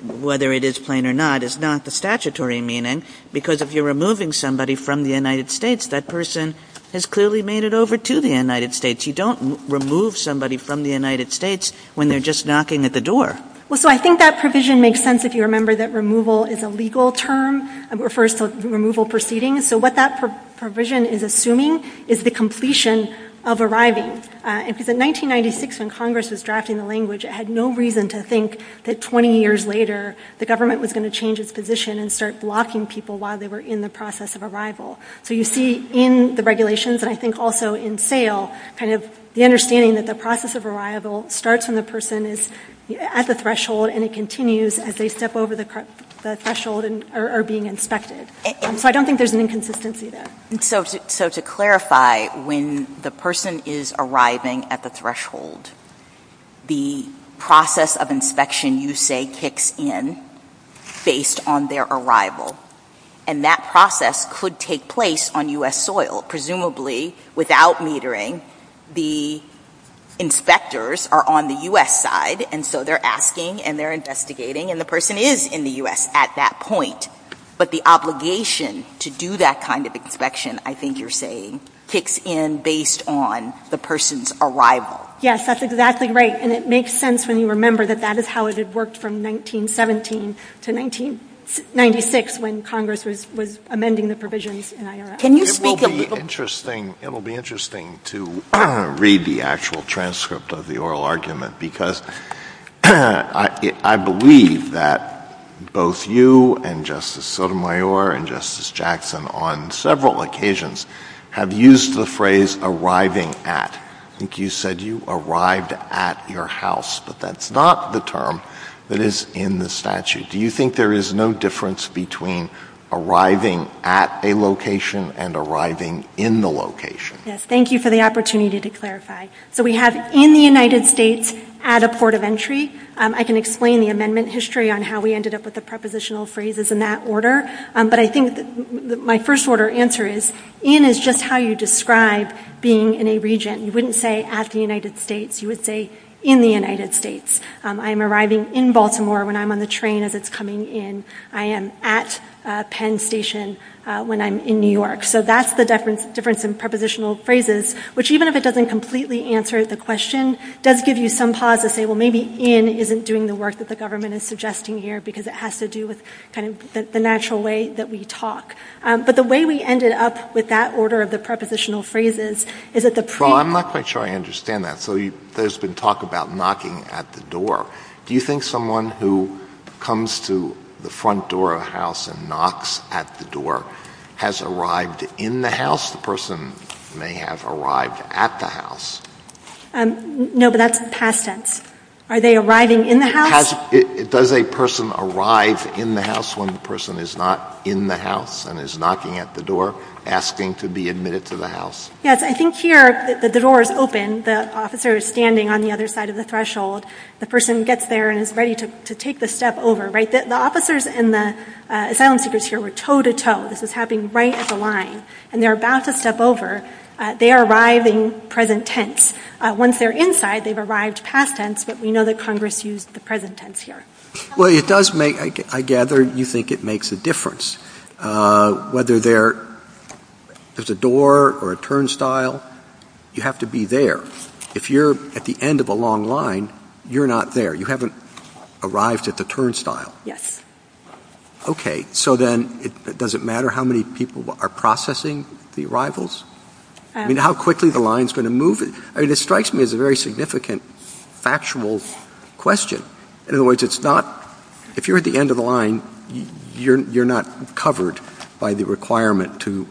whether it is plain or not, is not the statutory meaning, because if you're removing somebody from the United States, that person has clearly made it over to the United States. You don't remove somebody from the United States when they're just knocking at the door. Well, so I think that provision makes sense if you remember that removal is a legal term. It refers to removal proceedings. So what that provision is assuming is the completion of arriving. In 1996, when Congress was drafting the language, it had no reason to think that 20 years later the government was going to change its position and start blocking people while they were in the process of arrival. So you see in the regulations, and I think also in SAIL, kind of the understanding that the process of arrival starts when the person is at the threshold and it continues as they step over the threshold and are being inspected. So I don't think there's an inconsistency there. So to clarify, when the person is arriving at the threshold, the process of inspection you say kicks in based on their arrival, and that process could take place on U.S. soil. Presumably, without metering, the inspectors are on the U.S. side, and so they're asking and they're investigating, and the person is in the U.S. at that point. But the obligation to do that kind of inspection, I think you're saying, kicks in based on the person's arrival. Yes, that's exactly right, and it makes sense when you remember that that is how it had worked from 1917 to 1996 when Congress was amending the provisions in IRS. It will be interesting to read the actual transcript of the oral argument because I believe that both you and Justice Sotomayor and Justice Jackson, on several occasions, have used the phrase arriving at. I think you said you arrived at your house, but that's not the term that is in the statute. Do you think there is no difference between arriving at a location and arriving in the location? Yes, thank you for the opportunity to clarify. So we have in the United States at a port of entry. I can explain the amendment history on how we ended up with the prepositional phrases in that order, but I think my first order answer is in is just how you describe being in a region. You wouldn't say at the United States. You would say in the United States. I'm arriving in Baltimore when I'm on the train as it's coming in. I am at Penn Station when I'm in New York. So that's the difference in prepositional phrases, which even if it doesn't completely answer the question, does give you some pause to say, well, maybe in isn't doing the work that the government is suggesting here because it has to do with kind of the natural way that we talk. But the way we ended up with that order of the prepositional phrases is that the pre- Well, I'm not quite sure I understand that. So there's been talk about knocking at the door. Do you think someone who comes to the front door of a house and knocks at the door has arrived in the house? The person may have arrived at the house. No, but that's past tense. Are they arriving in the house? Does a person arrive in the house when the person is not in the house and is knocking at the door asking to be admitted to the house? Yes, I think here the door is open. The officer is standing on the other side of the threshold. The person gets there and is ready to take the step over. The officers and the asylum seekers here were toe to toe. This was happening right at the line. And they're about to step over. They are arriving present tense. Once they're inside, they've arrived past tense, but we know that Congress used the present tense here. Well, I gather you think it makes a difference. Whether there is a door or a turnstile, you have to be there. If you're at the end of a long line, you're not there. You haven't arrived at the turnstile. Yes. Okay, so then does it matter how many people are processing the arrivals? I mean, how quickly the line is going to move? It strikes me as a very significant factual question. In other words, if you're at the end of a line, you're not covered by the requirement to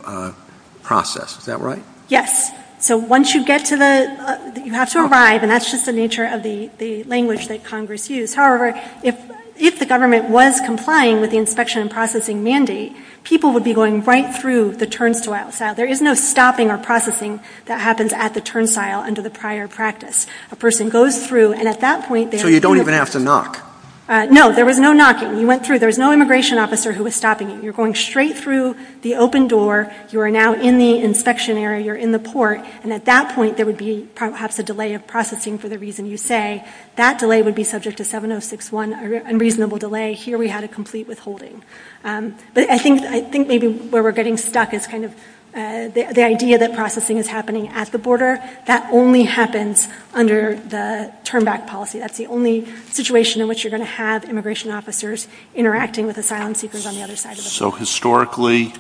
process. Is that right? Yes. So once you get to the, you have to arrive, and that's just the nature of the language that Congress used. However, if the government was complying with the inspection and processing mandate, people would be going right through the turnstile. There is no stopping or processing that happens at the turnstile under the prior practice. A person goes through, and at that point they are going to be- So you don't even have to knock? No, there was no knocking. You went through. There's no immigration officer who was stopping you. You're going straight through the open door. You are now in the inspection area. You're in the port. And at that point there would be perhaps a delay of processing for the reason you say. That delay would be subject to 7061, unreasonable delay. Here we had a complete withholding. But I think maybe where we're getting stuck is kind of the idea that processing is happening at the border. That only happens under the turnback policy. That's the only situation in which you're going to have immigration officers interacting with asylum seekers on the other side of the border. So historically,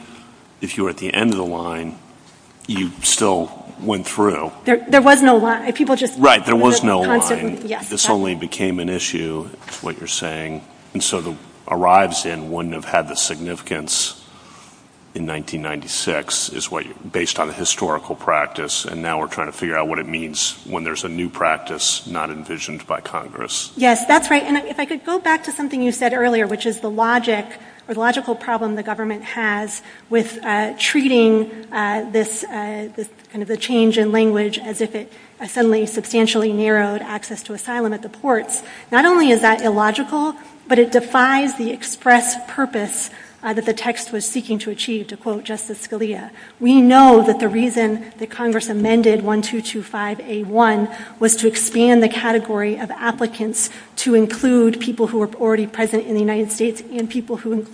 if you're at the end of the line, you still went through. There was no line. People just- Right, there was no line. This only became an issue, is what you're saying. And so arrives in wouldn't have had the significance in 1996, is what you're-based on a historical practice. And now we're trying to figure out what it means when there's a new practice not envisioned by Congress. Yes, that's right. And if I could go back to something you said earlier, which is the logic or the logical problem the government has with treating this kind of a change in language as if it suddenly substantially narrowed access to asylum at the port. Not only is that illogical, but it defies the express purpose that the text was seeking to achieve, to quote Justice Scalia. We know that the reason that Congress amended 1225A1 was to expand the category of applicants to include people who were already present in the United States and people who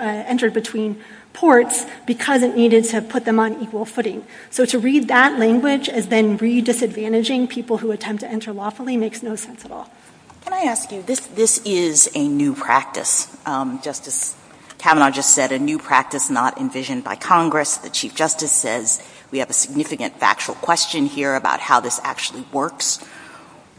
entered between ports because it needed to put them on equal footing. So to read that language as then redisadvantaging people who attempt to enter lawfully makes no sense at all. Can I ask you, this is a new practice. Justice Kavanaugh just said a new practice not envisioned by Congress. The Chief Justice says we have a significant factual question here about how this actually works.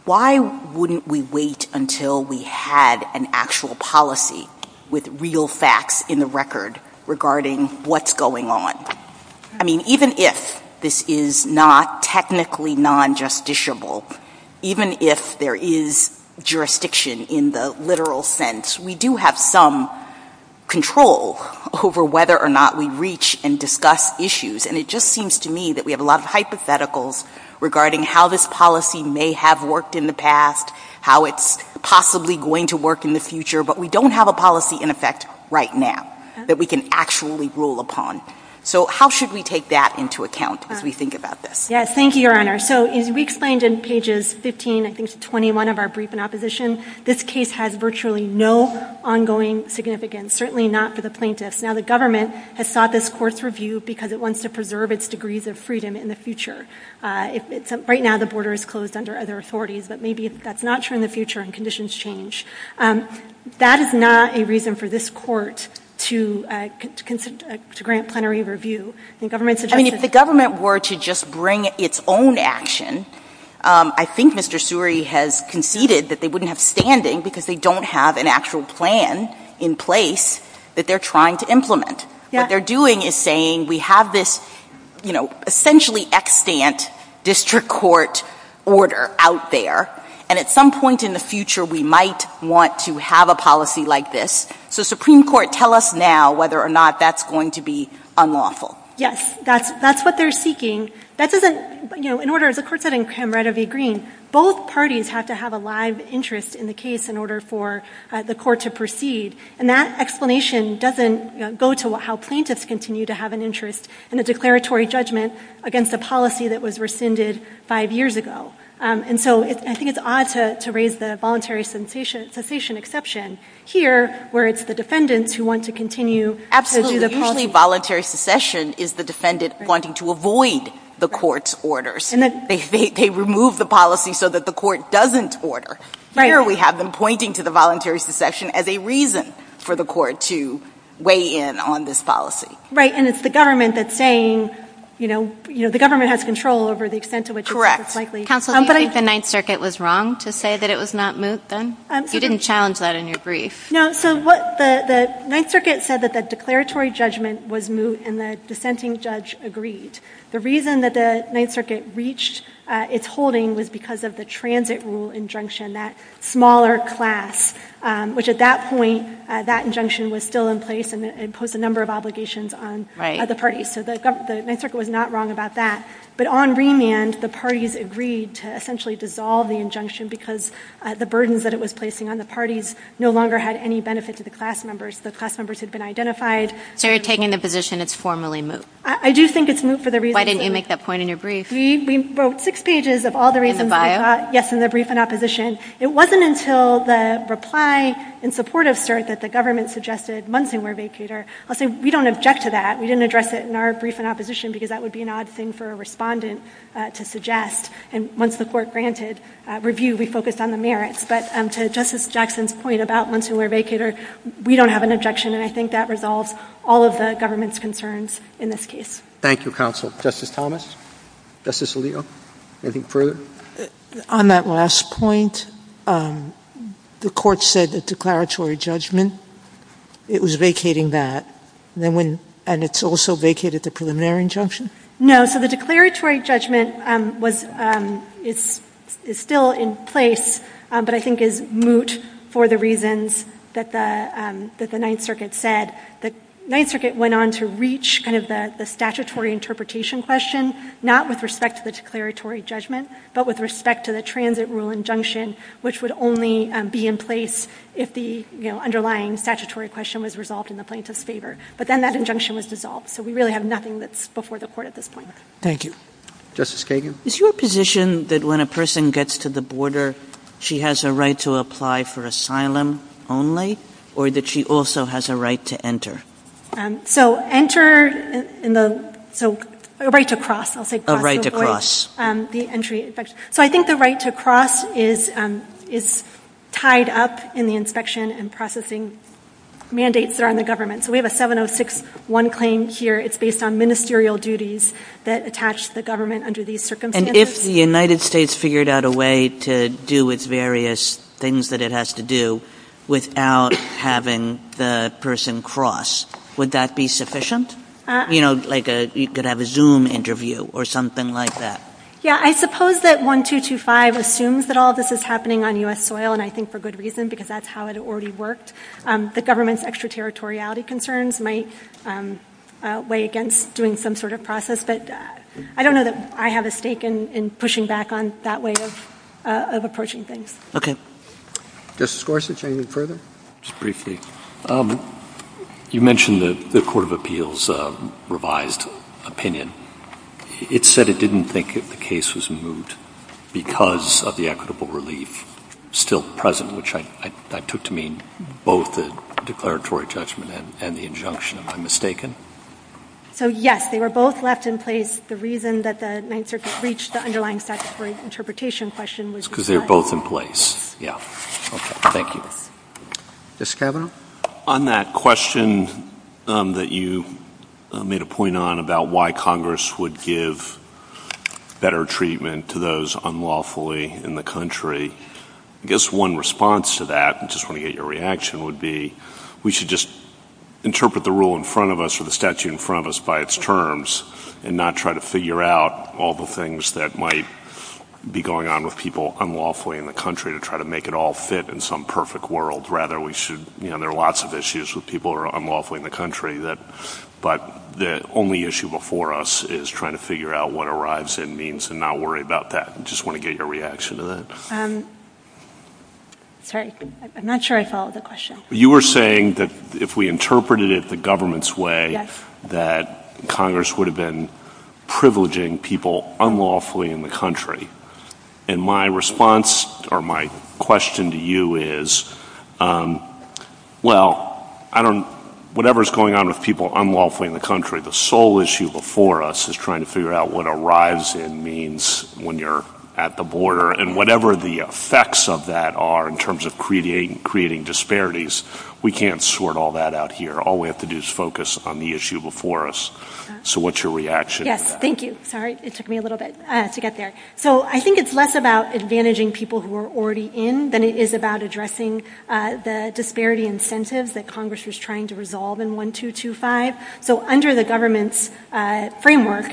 Why wouldn't we wait until we had an actual policy with real facts in the record regarding what's going on? I mean, even if this is not technically non-justiciable, even if there is jurisdiction in the literal sense, we do have some control over whether or not we reach and discuss issues. And it just seems to me that we have a lot of hypotheticals regarding how this policy may have worked in the past, how it's possibly going to work in the future, but we don't have a policy in effect right now that we can actually rule upon. So how should we take that into account as we think about this? Yes, thank you, Your Honor. So as we explained in pages 15, I think it's 21 of our brief in opposition, this case had virtually no ongoing significance, certainly not for the plaintiffs. Now the government has sought this court's review because it wants to preserve its degrees of freedom in the future. Right now the border is closed under other authorities, but maybe that's not true in the future and conditions change. That is not a reason for this court to grant plenary review. I mean, if the government were to just bring its own action, I think Mr. Suri has conceded that they wouldn't have standing because they don't have an actual plan in place that they're trying to implement. What they're doing is saying we have this, you know, essentially extant district court order out there, and at some point in the future we might want to have a policy like this. So Supreme Court, tell us now whether or not that's going to be unlawful. Yes, that's what they're seeking. That doesn't, you know, in order, as the court said in Cameron v. Green, both parties have to have a live interest in the case in order for the court to proceed. And that explanation doesn't go to how plaintiffs continue to have an interest in a declaratory judgment against a policy that was rescinded five years ago. And so I think it's odd to raise the voluntary secession exception here, where it's the defendant who wants to continue. Usually voluntary secession is the defendant wanting to avoid the court's orders. They remove the policy so that the court doesn't order. Here we have them pointing to the voluntary secession as a reason for the court to weigh in on this policy. Right. And it's the government that's saying, you know, the government has control over the extent to which it's likely. Counsel, do you think the Ninth Circuit was wrong to say that it was not moot then? You didn't challenge that in your brief. No, so what the Ninth Circuit said that the declaratory judgment was moot and the dissenting judge agreed. The reason that the Ninth Circuit reached its holding was because of the transit rule injunction, that smaller class, which at that point, that injunction was still in place and puts a number of obligations on the parties. So the Ninth Circuit was not wrong about that. But on remand, the parties agreed to essentially dissolve the injunction because the burdens that it was placing on the parties no longer had any benefit to the class members. The class members had been identified. So you're taking the position it's formally moot. I do think it's moot for the reason that... Why didn't you make that point in your brief? We wrote six pages of all the reasons... Yes, in the brief and opposition. It wasn't until the reply in support of CERC that the government suggested months and more vacate her. I'll say we don't object to that. We didn't address it in our brief in opposition because that would be an odd thing for a respondent to suggest. And once the court granted review, we focused on the merits. But to Justice Jackson's point about months and more vacate her, we don't have an objection. And I think that resolves all of the government's concerns in this case. Thank you, counsel. Justice Thomas? Justice Alito? Anything further? On that last point, the court said the declaratory judgment, it was vacating that. And it's also vacated the preliminary injunction? No, so the declaratory judgment is still in place, but I think is moot for the reasons that the Ninth Circuit said. The Ninth Circuit went on to reach kind of the statutory interpretation question, not with respect to the declaratory judgment, but with respect to the transit rule injunction, which would only be in place if the underlying statutory question was resolved in the plaintiff's favor. But then that injunction was dissolved, so we really have nothing that's before the court at this point. Thank you. Justice Kagan? Is your position that when a person gets to the border, she has a right to apply for asylum only, or that she also has a right to enter? So enter, so a right to cross, I'll say. A right to cross. So I think the right to cross is tied up in the inspection and processing mandates that are on the government. So we have a 706.1 claim here. It's based on ministerial duties that attach the government under these circumstances. And if the United States figured out a way to do its various things that it has to do without having the person cross, would that be sufficient? You know, like you could have a Zoom interview or something like that. Yeah, I suppose that 1225 assumes that all this is happening on U.S. soil, and I think for good reason because that's how it already worked. The government's extraterritoriality concerns might weigh against doing some sort of process, but I don't know that I have a stake in pushing back on that way of approaching things. Okay. Justice Gorsuch, anything further? Just briefly. You mentioned the Court of Appeals revised opinion. It said it didn't think that the case was moved because of the equitable relief still present, which I think that took to mean both the declaratory judgment and the injunction, if I'm mistaken. So, yes, they were both left in place. The reason that the United States reached the underlying facts for interpretation question was because they were both in place. Yeah. Okay. Thank you. Justice Scalia? On that question that you made a point on about why Congress would give better treatment to those unlawfully in the country, I guess one response to that, and I just want to get your reaction, would be we should just interpret the rule in front of us or the statute in front of us by its terms and not try to figure out all the things that might be going on with people unlawfully in the country to try to make it all fit in some perfect world. Rather, there are lots of issues with people who are unlawfully in the country, but the only issue before us is trying to figure out what arrives in means and not worry about that. I just want to get your reaction to that. I'm not sure I followed the question. You were saying that if we interpreted it the government's way, that Congress would have been privileging people unlawfully in the country. My response or my question to you is, well, whatever is going on with people unlawfully in the country, the sole issue before us is trying to figure out what arrives in means when you're at the border, and whatever the effects of that are in terms of creating disparities, we can't sort all that out here. All we have to do is focus on the issue before us. So what's your reaction? Thank you. Sorry, it took me a little bit to get there. So I think it's less about advantaging people who are already in than it is about addressing the disparity incentives that Congress was trying to resolve in 1225. So under the government's framework,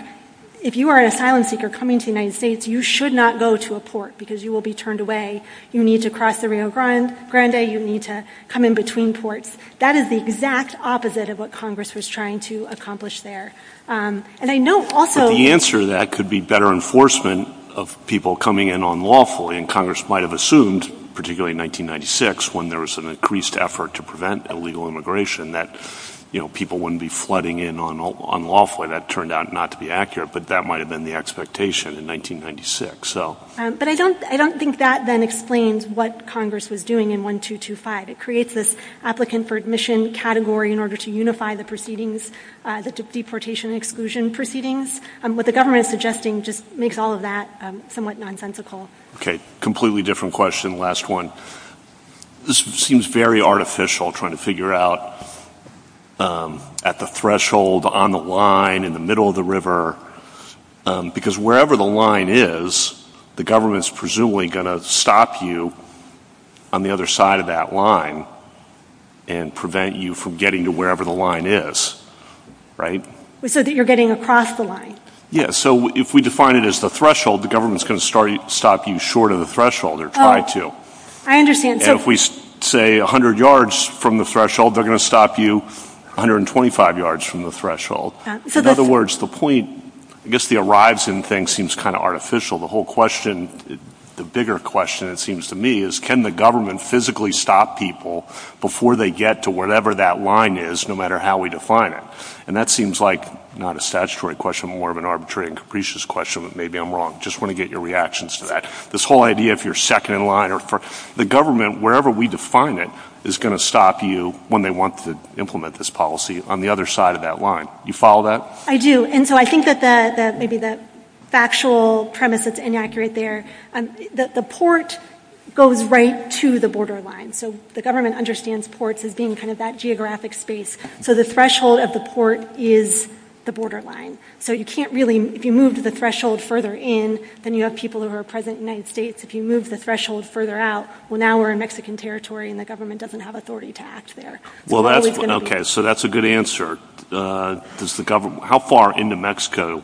if you are an asylum seeker coming to the United States, you should not go to a port because you will be turned away. You need to cross the Rio Grande. You need to come in between ports. That is the exact opposite of what Congress was trying to accomplish there. The answer to that could be better enforcement of people coming in unlawfully, and Congress might have assumed, particularly in 1996, when there was an increased effort to prevent illegal immigration, that people wouldn't be flooding in unlawfully. That turned out not to be accurate, but that might have been the expectation in 1996. But I don't think that then explains what Congress was doing in 1225. It creates this applicant for admission category in order to unify the proceedings, the deportation exclusion proceedings. What the government is suggesting just makes all of that somewhat nonsensical. Okay, completely different question. Last one. This seems very artificial, trying to figure out at the threshold, on the line, in the middle of the river, because wherever the line is, the government is presumably going to stop you on the other side of that line and prevent you from getting to wherever the line is, right? So that you're getting across the line? Yes, so if we define it as the threshold, the government is going to stop you short of the threshold, or try to. I understand. And if we say 100 yards from the threshold, they're going to stop you 125 yards from the threshold. In other words, the point, I guess the arrives in thing seems kind of artificial. The whole question, the bigger question, it seems to me, is can the government physically stop people before they get to whatever that line is, no matter how we define it? And that seems like not a statutory question, more of an arbitrary and capricious question. Maybe I'm wrong. I just want to get your reactions to that. This whole idea if you're second in line or first, the government, wherever we define it, is going to stop you when they want to implement this policy on the other side of that line. Do you follow that? I do. And so I think that maybe the factual premise that's inaccurate there, that the port goes right to the borderline. So the government understands ports as being kind of that geographic space. So the threshold of the port is the borderline. So you can't really, if you move the threshold further in, then you have people who are present in the United States. If you move the threshold further out, well, now we're in Mexican territory and the government doesn't have authority to act there. Okay, so that's a good answer. How far into Mexico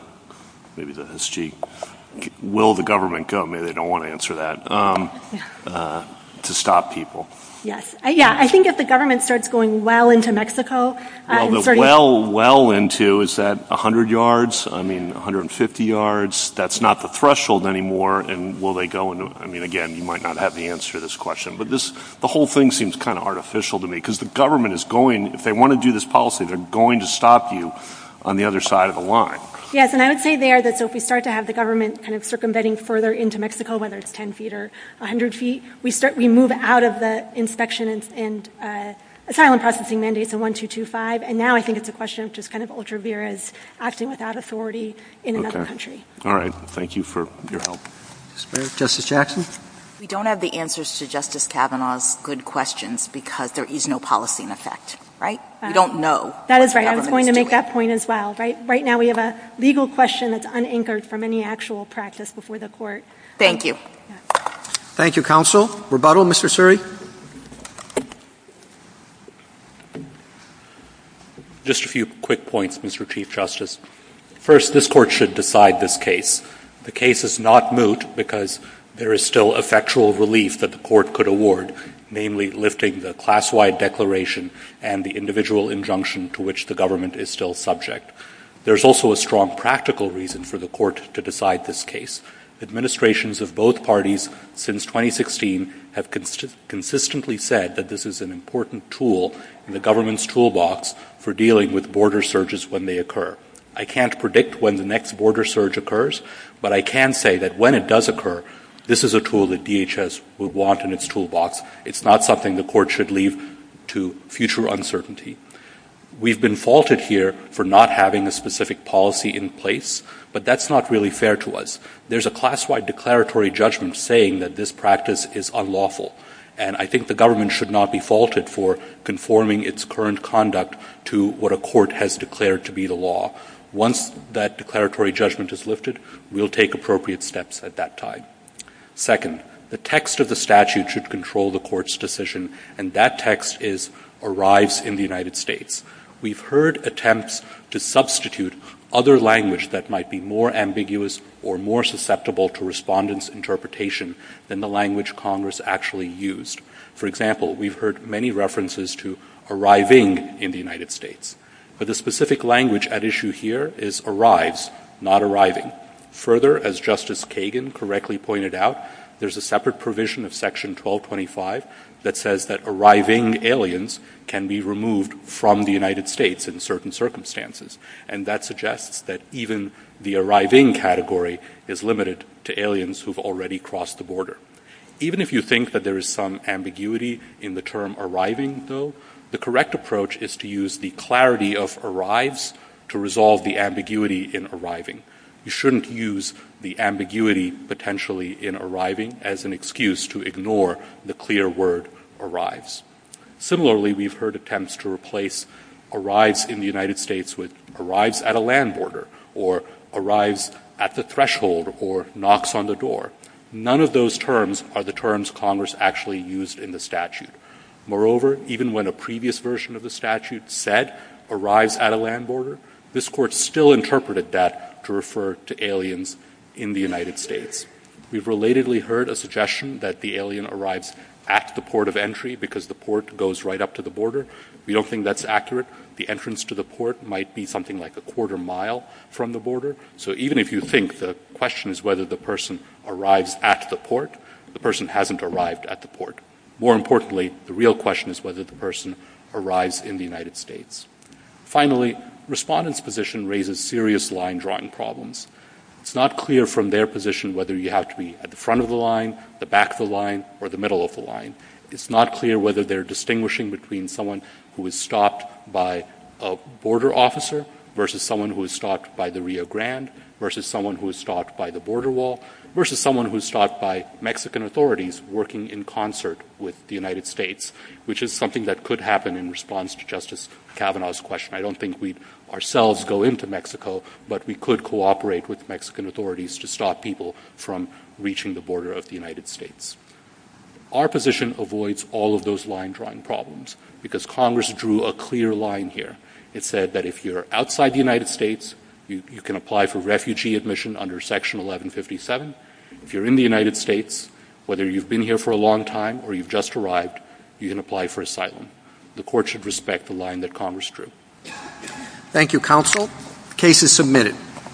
will the government go? Maybe they don't want to answer that. To stop people. I think if the government starts going well into Mexico. Well into, is that 100 yards? I mean, 150 yards? That's not the threshold anymore. And will they go into it? I mean, again, you might not have the answer to this question. But the whole thing seems kind of artificial to me. Because the government is going, if they want to do this policy, they're going to stop you on the other side of the line. Yes, and I would say there that if we start to have the government kind of circumventing further into Mexico, whether it's 10 feet or 100 feet, we move out of the inspection and asylum processing mandates of 1-2-2-5. And now I think it's a question of just kind of ultra-viras acting without authority in another country. All right, thank you for your help. Justice Jackson? We don't have the answers to Justice Kavanaugh's good questions because there is no policy in effect, right? We don't know. That is right. I'm going to make that point as well. Right now we have a legal question that's unanchored from any actual practice before the court. Thank you. Thank you, counsel. Rebuttal, Mr. Suri? Just a few quick points, Mr. Chief Justice. First, this court should decide this case. The case is not moot because there is still effectual relief that the court could award, namely lifting the class-wide declaration and the individual injunction to which the government is still subject. There's also a strong practical reason for the court to decide this case. Administrations of both parties since 2016 have consistently said that this is an important tool in the government's toolbox for dealing with border surges when they occur. I can't predict when the next border surge occurs, but I can say that when it does occur, this is a tool that DHS would want in its toolbox. It's not something the court should leave to future uncertainty. We've been faulted here for not having a specific policy in place, but that's not really fair to us. There's a class-wide declaratory judgment saying that this practice is unlawful, and I think the government should not be faulted for conforming its current conduct to what a court has declared to be the law. Once that declaratory judgment is lifted, we'll take appropriate steps at that time. Second, the text of the statute should control the court's decision, and that text is arrives in the United States. We've heard attempts to substitute other language that might be more ambiguous or more susceptible to respondents' interpretation than the language Congress actually used. For example, we've heard many references to arriving in the United States, but the specific language at issue here is arrives, not arriving. Further, as Justice Kagan correctly pointed out, there's a separate provision of Section 1225 that says that arriving aliens can be removed from the United States in certain circumstances, and that suggests that even the arriving category is limited to aliens who've already crossed the border. Even if you think that there is some ambiguity in the term arriving, though, the correct approach is to use the clarity of arrives to resolve the ambiguity in arriving. You shouldn't use the ambiguity potentially in arriving as an excuse to ignore the clear word arrives. Similarly, we've heard attempts to replace arrives in the United States with arrives at a land border or arrives at the threshold or knocks on the door. None of those terms are the terms Congress actually used in the statute. Moreover, even when a previous version of the statute said arrives at a land border, this Court still interpreted that to refer to aliens in the United States. We've relatedly heard a suggestion that the alien arrives at the port of entry because the port goes right up to the border. We don't think that's accurate. The entrance to the port might be something like a quarter mile from the border. So even if you think the question is whether the person arrives at the port, the person hasn't arrived at the port. More importantly, the real question is whether the person arrives in the United States. Finally, respondents' position raises serious line-drawing problems. It's not clear from their position whether you have to be at the front of the line, the back of the line, or the middle of the line. It's not clear whether they're distinguishing between someone who is stopped by a border officer versus someone who is stopped by the Rio Grande versus someone who is stopped by the border wall versus someone who is stopped by Mexican authorities working in concert with the United States, which is something that could happen in response to Justice Kavanaugh's question. I don't think we'd ourselves go into Mexico, but we could cooperate with Mexican authorities to stop people from reaching the border of the United States. Our position avoids all of those line-drawing problems because Congress drew a clear line here. It said that if you're outside the United States, you can apply for refugee admission under Section 1157. If you're in the United States, whether you've been here for a long time or you've just arrived, you can apply for asylum. The court should respect the line that Congress drew. Thank you, Counsel. Case is submitted.